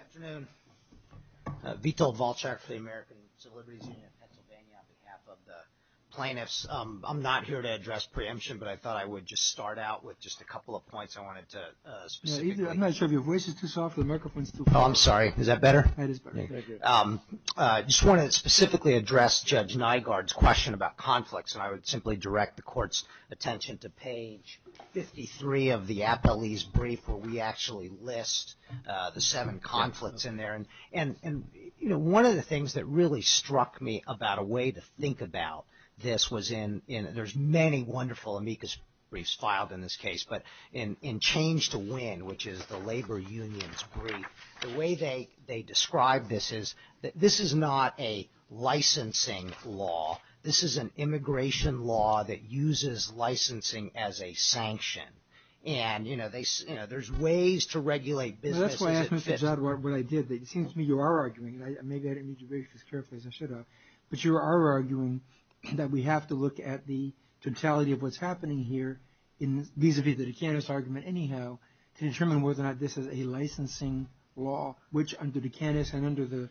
afternoon. Vito Volchak for the American Civil Liberties Union in Pennsylvania on behalf of the plaintiffs. I'm not here to address preemption, but I thought I would just start out with just a couple of points I wanted to specify. I'm not sure if your voice is too soft or the microphone is too quiet. Oh, I'm sorry. Is that better? That is better. I just wanted to specifically address Judge Nygaard's question about conflicts, and I would simply direct the court's attention to page 53 of the appellee's brief where we actually list the seven conflicts in there. And, you know, one of the things that really struck me about a way to think about this was in – there's many wonderful amicus briefs filed in this case, but in Change to Win, which is the labor union's brief, the way they describe this is that this is not a licensing law. This is an immigration law that uses licensing as a sanction. And, you know, there's ways to regulate business. That's why I asked Mr. Zad what I did. It seems to me you are arguing, and maybe I didn't need to raise this carefully as I should have, but you are arguing that we have to look at the totality of what's happening here vis-à-vis the Dukakis argument anyhow to determine whether or not this is a licensing law, which under Dukakis and under the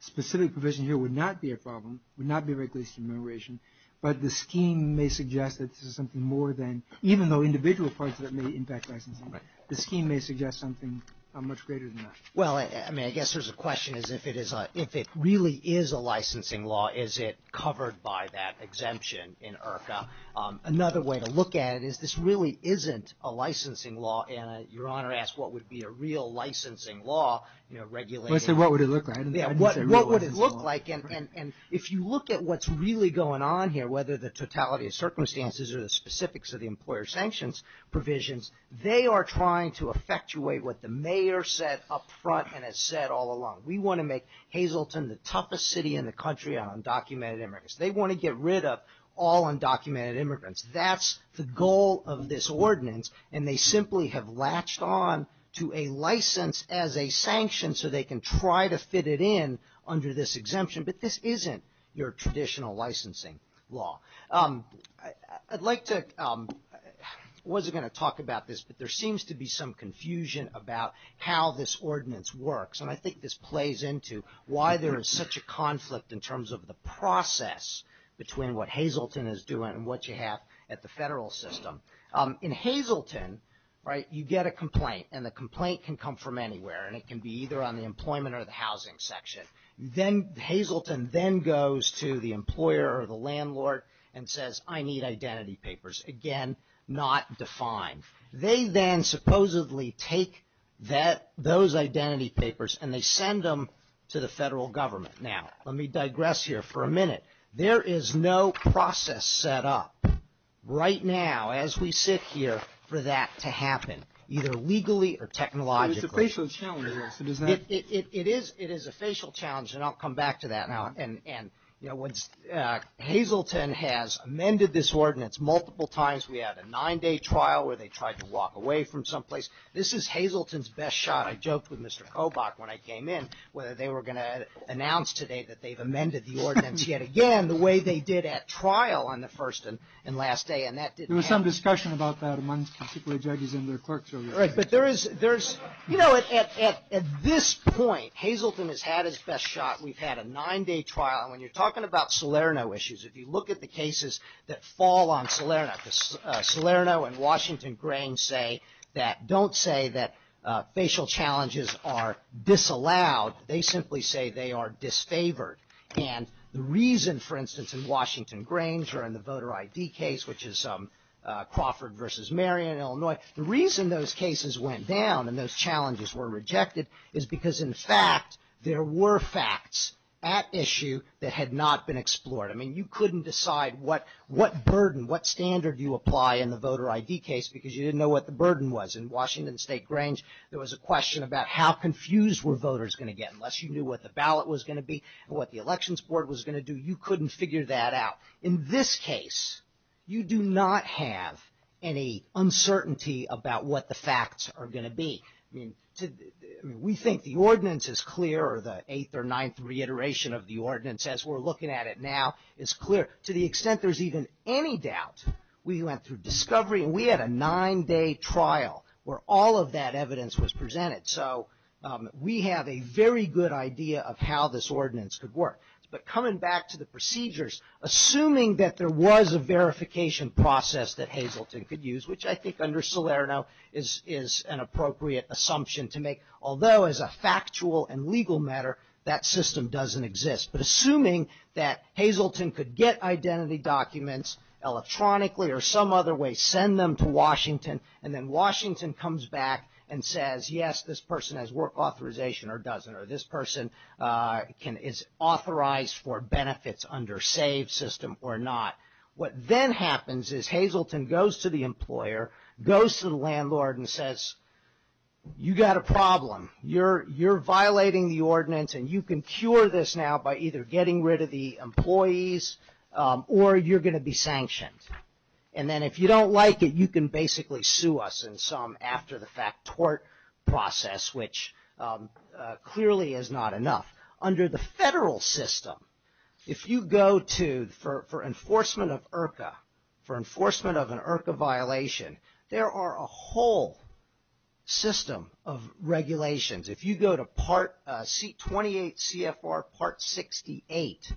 specific provision here would not be a problem, would not be a regulation of immigration, but the scheme may suggest that this is something more than – even though individual parts of it may impact licensing, the scheme may suggest something much greater than that. Well, I mean, I guess there's a question as if it really is a licensing law. Is it covered by that exemption in IRCA? Another way to look at it is this really isn't a licensing law, and Your Honor asked what would be a real licensing law, you know, regulated. What would it look like? And if you look at what's really going on here, whether the totality of circumstances or the specifics of the employer sanctions provisions, they are trying to effectuate what the mayor said up front and has said all along. We want to make Hazleton the toughest city in the country on undocumented immigrants. They want to get rid of all undocumented immigrants. That's the goal of this ordinance, and they simply have latched on to a license as a sanction so they can try to fit it in under this exemption. But this isn't your traditional licensing law. I'd like to – I wasn't going to talk about this, but there seems to be some confusion about how this ordinance works, and I think this plays into why there is such a conflict in terms of the process between what Hazleton is doing and what you have at the federal system. In Hazleton, right, you get a complaint, and the complaint can come from anywhere, and it can be either on the employment or the housing section. Hazleton then goes to the employer or the landlord and says, I need identity papers. Again, not defined. They then supposedly take those identity papers and they send them to the federal government. Now, let me digress here for a minute. There is no process set up right now as we sit here for that to happen, either legally or technologically. It's a facial challenge. It is a facial challenge, and I'll come back to that. Hazleton has amended this ordinance multiple times. We had a nine-day trial where they tried to walk away from some place. This is Hazleton's best shot. I joked with Mr. Kobach when I came in whether they were going to announce today that they've amended the ordinance yet again the way they did at trial on the first and last day, and that didn't happen. There was some discussion about that amongst particular judges in their courts. Right, but there is ‑‑ you know, at this point, Hazleton has had his best shot. We've had a nine-day trial, and when you're talking about Salerno issues, if you look at the cases that fall on Salerno, Salerno and Washington Grains say that don't say that facial challenges are disallowed. They simply say they are disfavored, and the reason, for instance, in Washington Grains or in the voter ID case, which is Crawford versus Marion, Illinois, the reason those cases went down and those challenges were rejected is because, in fact, there were facts at issue that had not been explored. I mean, you couldn't decide what burden, what standard you apply in the voter ID case because you didn't know what the burden was. In Washington State Grains, there was a question about how confused were voters going to get. Unless you knew what the ballot was going to be and what the elections board was going to do, you couldn't figure that out. In this case, you do not have any uncertainty about what the facts are going to be. We think the ordinance is clear, or the eighth or ninth reiteration of the ordinance, as we're looking at it now, is clear. To the extent there's even any doubt, we went through discovery, and we had a nine-day trial where all of that evidence was presented. So we have a very good idea of how this ordinance could work. But coming back to the procedures, assuming that there was a verification process that Hazleton could use, which I think under Salerno is an appropriate assumption to make, although as a factual and legal matter that system doesn't exist. But assuming that Hazleton could get identity documents electronically or some other way, send them to Washington, and then Washington comes back and says, yes, this person has work authorization or doesn't, or this person is authorized for benefits under SAVE system or not. What then happens is Hazleton goes to the employer, goes to the landlord, and says, you've got a problem. You're violating the ordinance, and you can cure this now by either getting rid of the employees or you're going to be sanctioned. And then if you don't like it, you can basically sue us in some after-the-fact tort process, which clearly is not enough. Under the federal system, if you go to, for enforcement of IRCA, for enforcement of an IRCA violation, there are a whole system of regulations. If you go to 28 CFR Part 68,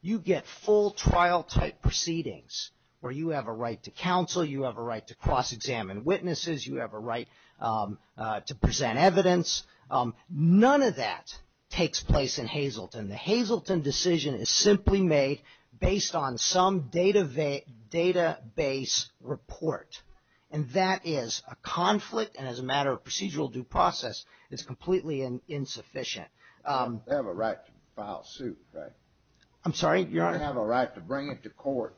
you get full trial-type proceedings where you have a right to counsel, you have a right to cross-examine witnesses, you have a right to present evidence. None of that takes place in Hazleton. The Hazleton decision is simply made based on some database report, and that is a conflict, and as a matter of procedural due process, it's completely insufficient. They have a right to file suit, right? I'm sorry? I think you have a right to bring it to court.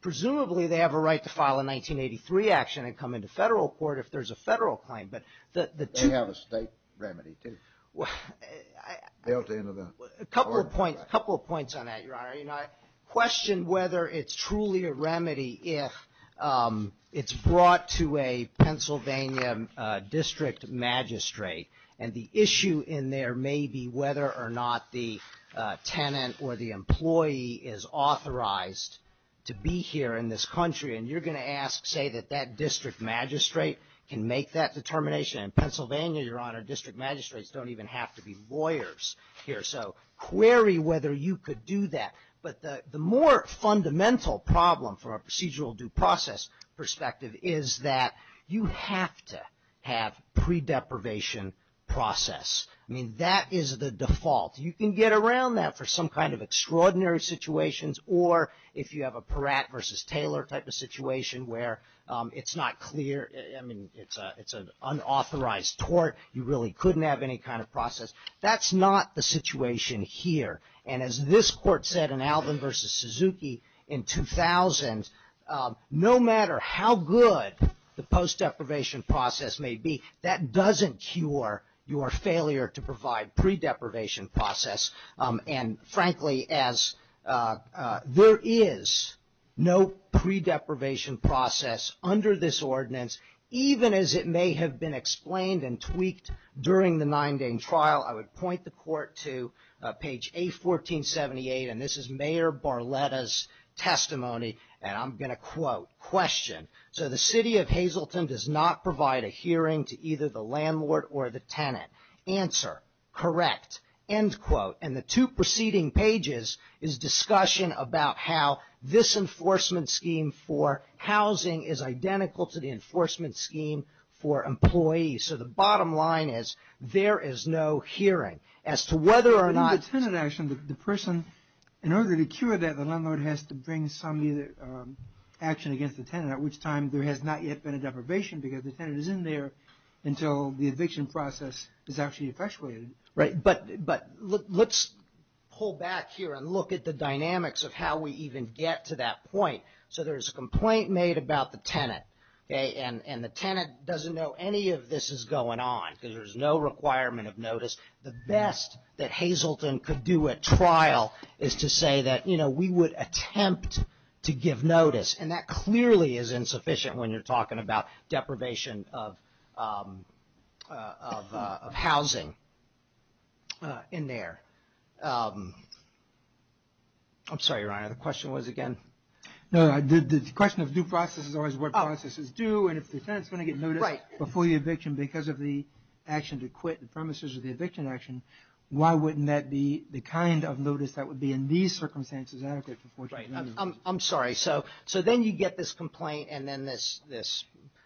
Presumably they have a right to file a 1983 action and come into federal court if there's a federal claim. They have a state remedy, too. A couple of points on that, Your Honor. I question whether it's truly a remedy if it's brought to a Pennsylvania district magistrate and the issue in there may be whether or not the tenant or the employee is authorized to be here in this country, and you're going to ask, say, that that district magistrate can make that determination. In Pennsylvania, Your Honor, district magistrates don't even have to be lawyers here. So query whether you could do that. But the more fundamental problem from a procedural due process perspective is that you have to have pre-deprivation process. I mean, that is the default. You can get around that for some kind of extraordinary situations, or if you have a Peratt versus Taylor type of situation where it's not clear, I mean, it's an unauthorized tort. You really couldn't have any kind of process. That's not the situation here. And as this court said in Alvin versus Suzuki in 2000, no matter how good the post-deprivation process may be, that doesn't cure your failure to provide pre-deprivation process. And, frankly, as there is no pre-deprivation process under this ordinance, even as it may have been explained and tweaked during the nine-day trial, I would point the court to page A1478, and this is Mayor Barletta's testimony, and I'm going to quote. Question. So the city of Hazleton does not provide a hearing to either the landlord or the tenant. Answer. Correct. End quote. And the two preceding pages is discussion about how this enforcement scheme for housing is identical to the enforcement scheme for employees. So the bottom line is there is no hearing. As to whether or not the person, in order to cure that, the landlord has to bring some action against the tenant, at which time there has not yet been a deprivation because the tenant is in there until the eviction process is actually effectuated. Right. But let's pull back here and look at the dynamics of how we even get to that point. So there's a complaint made about the tenant, and the tenant doesn't know any of this is going on because there's no requirement of notice. The best that Hazleton could do at trial is to say that, you know, we would attempt to give notice, and that clearly is insufficient when you're talking about deprivation of housing in there. I'm sorry, Ryan. The question was again? No, the question of due process is always what process is due, and if the tenant is going to get notice before the eviction because of the action to quit and premises of the eviction action, why wouldn't that be the kind of notice that would be in these circumstances adequate to enforce? I'm sorry. So then you get this complaint, and then this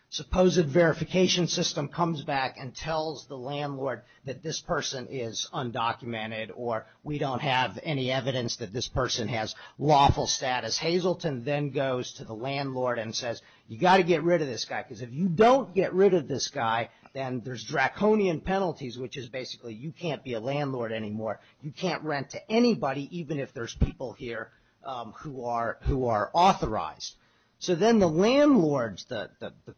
supposed verification system comes back and tells the landlord that this person is undocumented or we don't have any evidence that this person has lawful status. Hazleton then goes to the landlord and says, you've got to get rid of this guy because if you don't get rid of this guy, then there's draconian penalties, which is basically you can't be a landlord anymore. You can't rent to anybody, even if there's people here who are authorized. So then the landlord's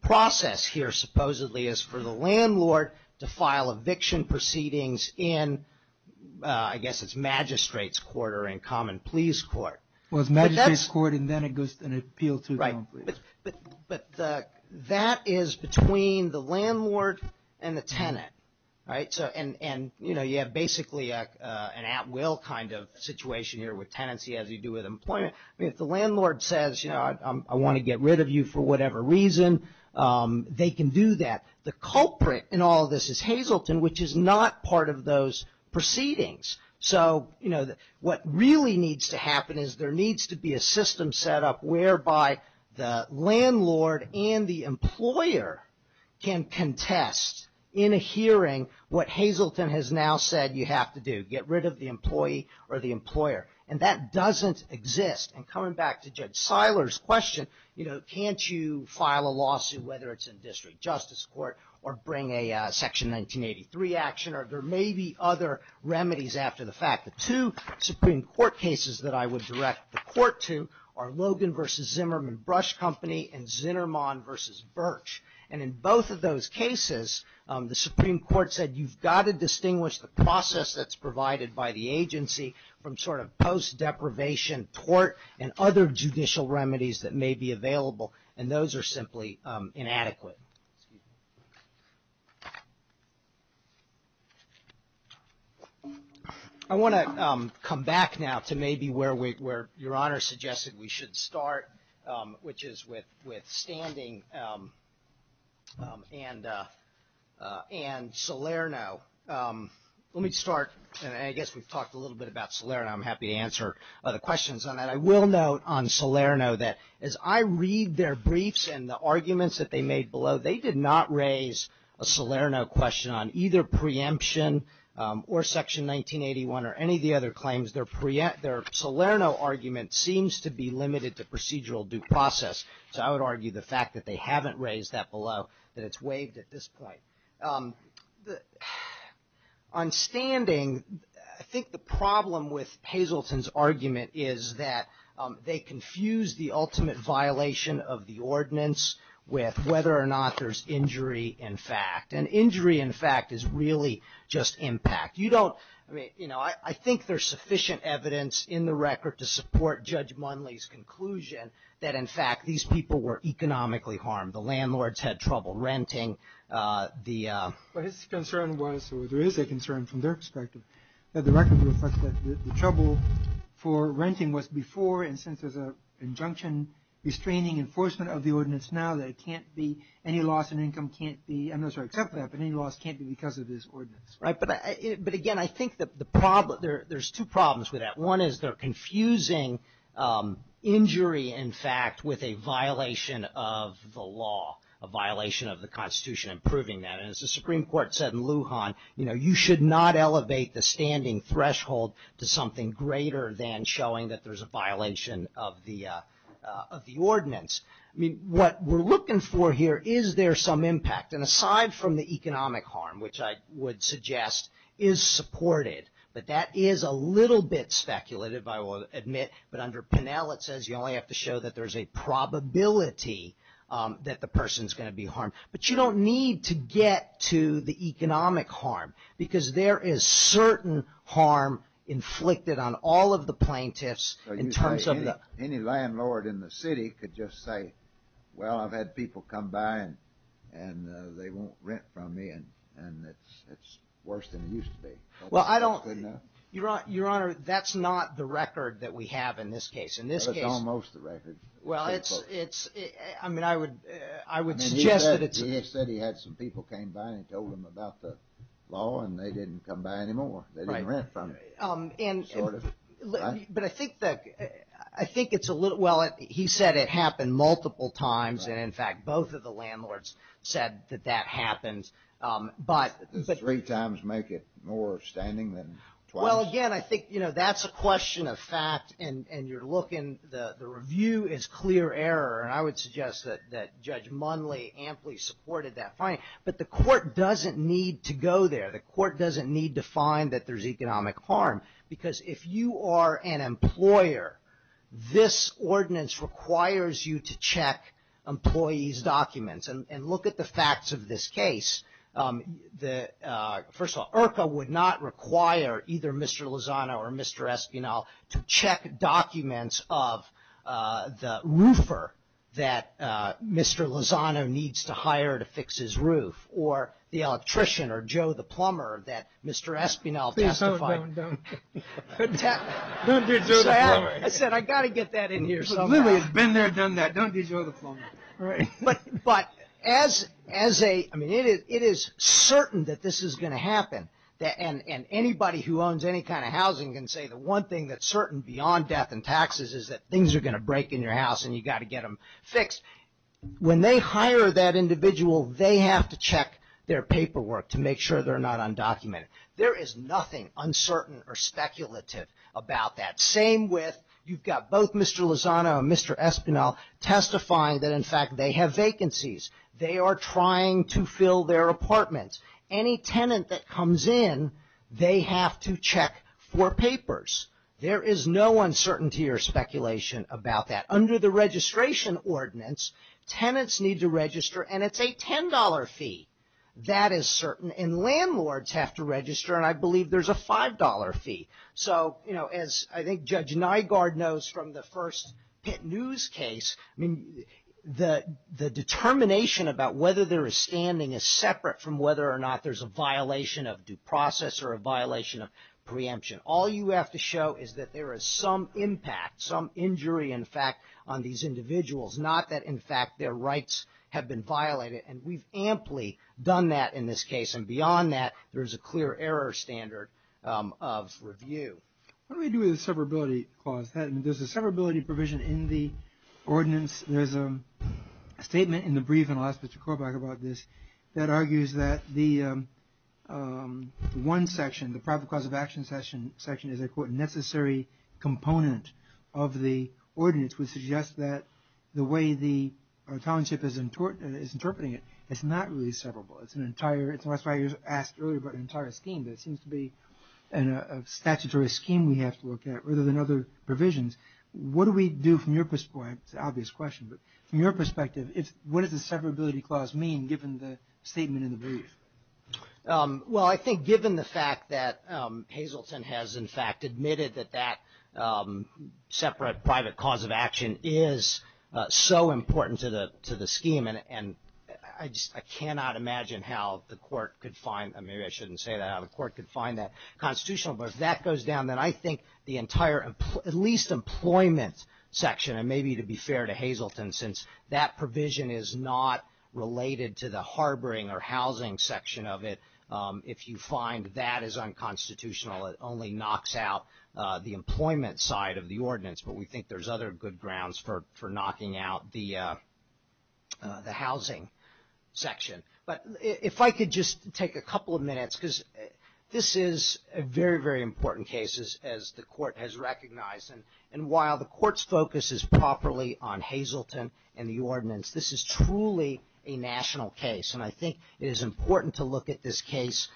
process here supposedly is for the landlord to file eviction proceedings in, I guess, it's magistrate's court or in common pleas court. Well, it's magistrate's court, and then it goes to an appeal to common pleas. Right. But that is between the landlord and the tenant, right? And, you know, you have basically an at will kind of situation here with tenancy as you do with employment. If the landlord says, you know, I want to get rid of you for whatever reason, they can do that. The culprit in all of this is Hazleton, which is not part of those proceedings. So, you know, what really needs to happen is there needs to be a system set up whereby the landlord and the employer can contest in a hearing what Hazleton has now said you have to do, get rid of the employee or the employer. And that doesn't exist. And coming back to Judge Seiler's question, you know, can't you file a lawsuit, whether it's in district justice court or bring a Section 1983 action, or there may be other remedies after the fact. The two Supreme Court cases that I would direct the court to are Logan v. Zimmerman Brush Company and Zinnerman v. Birch. And in both of those cases, the Supreme Court said you've got to distinguish the process that's provided by the agency from sort of post-deprivation court and other judicial remedies that may be available, and those are simply inadequate. I want to come back now to maybe where Your Honor suggested we should start, which is with standing and Salerno. Let me start, and I guess we've talked a little bit about Salerno. I'm happy to answer other questions on that. I will note on Salerno that as I read their briefs and the arguments that they made, they did not raise a Salerno question on either preemption or Section 1981 or any of the other claims. Their Salerno argument seems to be limited to procedural due process, so I would argue the fact that they haven't raised that below that it's waived at this point. On standing, I think the problem with Hazleton's argument is that they confused the ultimate violation of the ordinance with whether or not there's injury in fact, and injury in fact is really just impact. You don't, I mean, you know, I think there's sufficient evidence in the record to support Judge Munley's conclusion that, in fact, these people were economically harmed. The landlords had trouble renting. But his concern was, or there is a concern from their perspective, that the record reflects that the trouble for renting was before and since there's an injunction restraining enforcement of the ordinance now, that it can't be, any loss in income can't be, I'm not sure I accept that, but any loss can't be because of this ordinance. Right, but again, I think that the problem, there's two problems with that. One is they're confusing injury in fact with a violation of the law, a violation of the Constitution and proving that. And as the Supreme Court said in Lujan, you know, you should not elevate the standing threshold to something greater than showing that there's a violation of the ordinance. I mean, what we're looking for here, is there some impact? And aside from the economic harm, which I would suggest is supported, that that is a little bit speculated, I will admit, but under Penel, it says, you only have to show that there's a probability that the person's going to be harmed. But you don't need to get to the economic harm, because there is certain harm inflicted on all of the plaintiffs. Any landlord in the city could just say, well, I've had people come by and they won't rent from me and it's worse than it used to be. Well, I don't, Your Honor, that's not the record that we have in this case. It's almost the record. Well, it's, I mean, I would suggest that it's... He said he had some people came by and told him about the law and they didn't come by anymore. They didn't rent from him. But I think it's a little, well, he said it happened multiple times, and, in fact, both of the landlords said that that happens. Does three times make it more standing than twice? Well, again, I think, you know, that's a question of fact, and you're looking, the review is clear error, and I would suggest that Judge Munley amply supported that finding. But the court doesn't need to go there. The court doesn't need to find that there's economic harm, because if you are an employer, this ordinance requires you to check employees' documents. And look at the facts of this case. First of all, IRCA would not require either Mr. Lozano or Mr. Esquinal to check documents of the roofer that Mr. Lozano needs to hire to fix his roof, or the electrician or Joe the plumber that Mr. Esquinal testified. Don't do Joe the plumber. I said I got to get that in here somewhere. He's been there, done that. Don't do Joe the plumber. But as a, I mean, it is certain that this is going to happen, and anybody who owns any kind of housing can say that one thing that's certain beyond death and taxes is that things are going to break in your house and you've got to get them fixed. When they hire that individual, they have to check their paperwork to make sure they're not undocumented. There is nothing uncertain or speculative about that. Same with you've got both Mr. Lozano and Mr. Esquinal testifying that, in fact, they have vacancies. They are trying to fill their apartments. Any tenant that comes in, they have to check for papers. There is no uncertainty or speculation about that. Under the registration ordinance, tenants need to register, and it's a $10 fee. That is certain. And landlords have to register, and I believe there's a $5 fee. So, you know, as I think Judge Nygaard knows from the first Pitt News case, I mean, the determination about whether there is standing is separate from whether or not there's a violation of due process or a violation of preemption. All you have to show is that there is some impact, some injury, in fact, on these individuals, not that, in fact, their rights have been violated. And we've amply done that in this case, and beyond that, there is a clear error standard of review. What do we do with the severability clause? There's a severability provision in the ordinance. There's a statement in the brief, and I'll ask Mr. Korbach about this, that argues that the one section, the probable cause of action section, is a, quote, necessary component of the ordinance, which suggests that the way the township is interpreting it, it's not really severable. That's why you asked earlier about an entire scheme. There seems to be a statutory scheme we have to look at rather than other provisions. What do we do from your perspective? It's an obvious question, but from your perspective, what does the severability clause mean, given the statement in the brief? Well, I think given the fact that Hazelton has, in fact, admitted that that separate private cause of action is so important to the scheme, I cannot imagine how the court could find that constitutional. But if that goes down, then I think the entire, at least employment section, and maybe to be fair to Hazelton, since that provision is not related to the harboring or housing section of it, if you find that as unconstitutional, it only knocks out the employment side of the ordinance. But we think there's other good grounds for knocking out the housing section. But if I could just take a couple of minutes, because this is a very, very important case, as the court has recognized. And while the court's focus is properly on Hazelton and the ordinance, this is truly a national case. And I think it is important to look at this case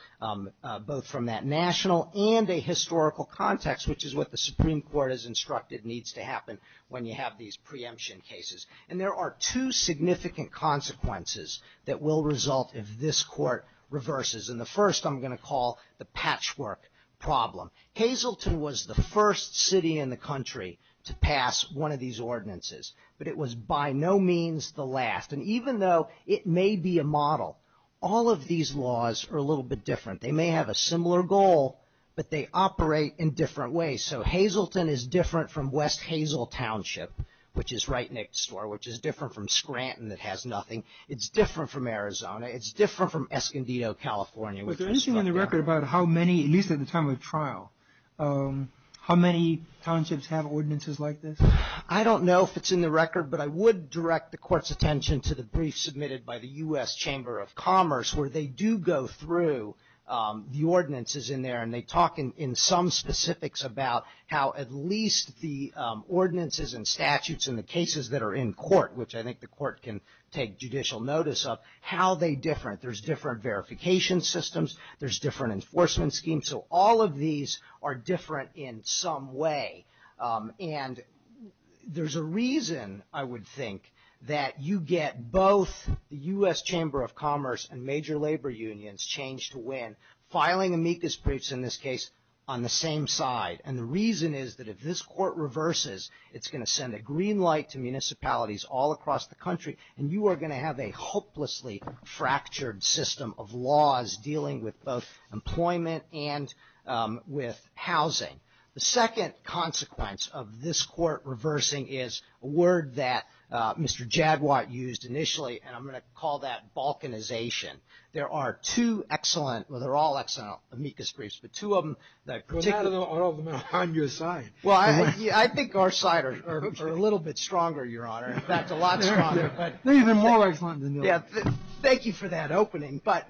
both from that national and a historical context, which is what the Supreme Court has instructed needs to happen when you have these preemption cases. And there are two significant consequences that will result if this court reverses. And the first I'm going to call the patchwork problem. Hazelton was the first city in the country to pass one of these ordinances. But it was by no means the last. And even though it may be a model, all of these laws are a little bit different. They may have a similar goal, but they operate in different ways. So Hazelton is different from West Hazel Township, which is right next door, which is different from Scranton that has nothing. It's different from Arizona. It's different from Escondido, California. Was there anything in the record about how many, at least at the time of the trial, how many townships have ordinances like this? I don't know if it's in the record, but I would direct the court's attention to the brief submitted by the U.S. Chamber of Commerce, where they do go through the ordinances in there, and they talk in some specifics about how at least the ordinances and statutes and the cases that are in court, which I think the court can take judicial notice of, how they're different. There's different verification systems. There's different enforcement schemes. So all of these are different in some way. And there's a reason, I would think, that you get both the U.S. Chamber of Commerce and major labor unions change to win, filing amicus briefs in this case on the same side. And the reason is that if this court reverses, it's going to send a green light to municipalities all across the country, and you are going to have a hopelessly fractured system of laws dealing with both employment and with housing. The second consequence of this court reversing is a word that Mr. Jagwatt used initially, and I'm going to call that balkanization. There are two excellent, well, they're all excellent amicus briefs, but two of them that particularly ---- Well, none of them are on your side. Well, I think our side are a little bit stronger, Your Honor. In fact, a lot stronger. They're even more excellent than yours. Thank you for that opening. But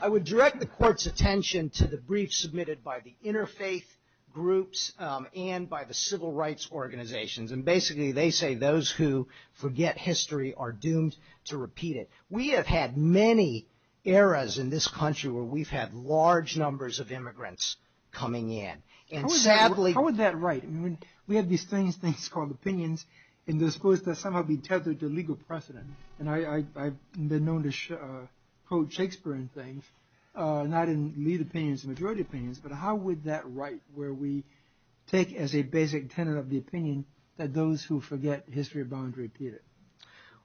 I would direct the court's attention to the briefs submitted by the interfaith groups and by the civil rights organizations, and basically they say those who forget history are doomed to repeat it. We have had many eras in this country where we've had large numbers of immigrants coming in. How is that right? We have these strange things called opinions in the discourse that somehow be tethered to legal precedent, and I've been known to quote Shakespeare in things, not in lead opinions, majority opinions, but how would that right where we take as a basic tenet of the opinion that those who forget history are bound to repeat it?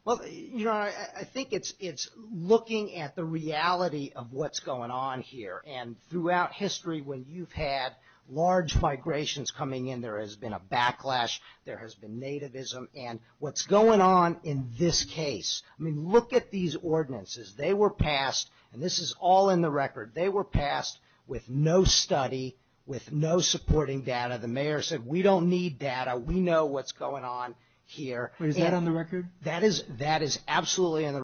Well, Your Honor, I think it's looking at the reality of what's going on here, and throughout history when you've had large migrations coming in, there has been a backlash, there has been nativism, and what's going on in this case, I mean, look at these ordinances. They were passed, and this is all in the record, they were passed with no study, with no supporting data. The mayor said we don't need data, we know what's going on here. Is that on the record? That is absolutely on the record.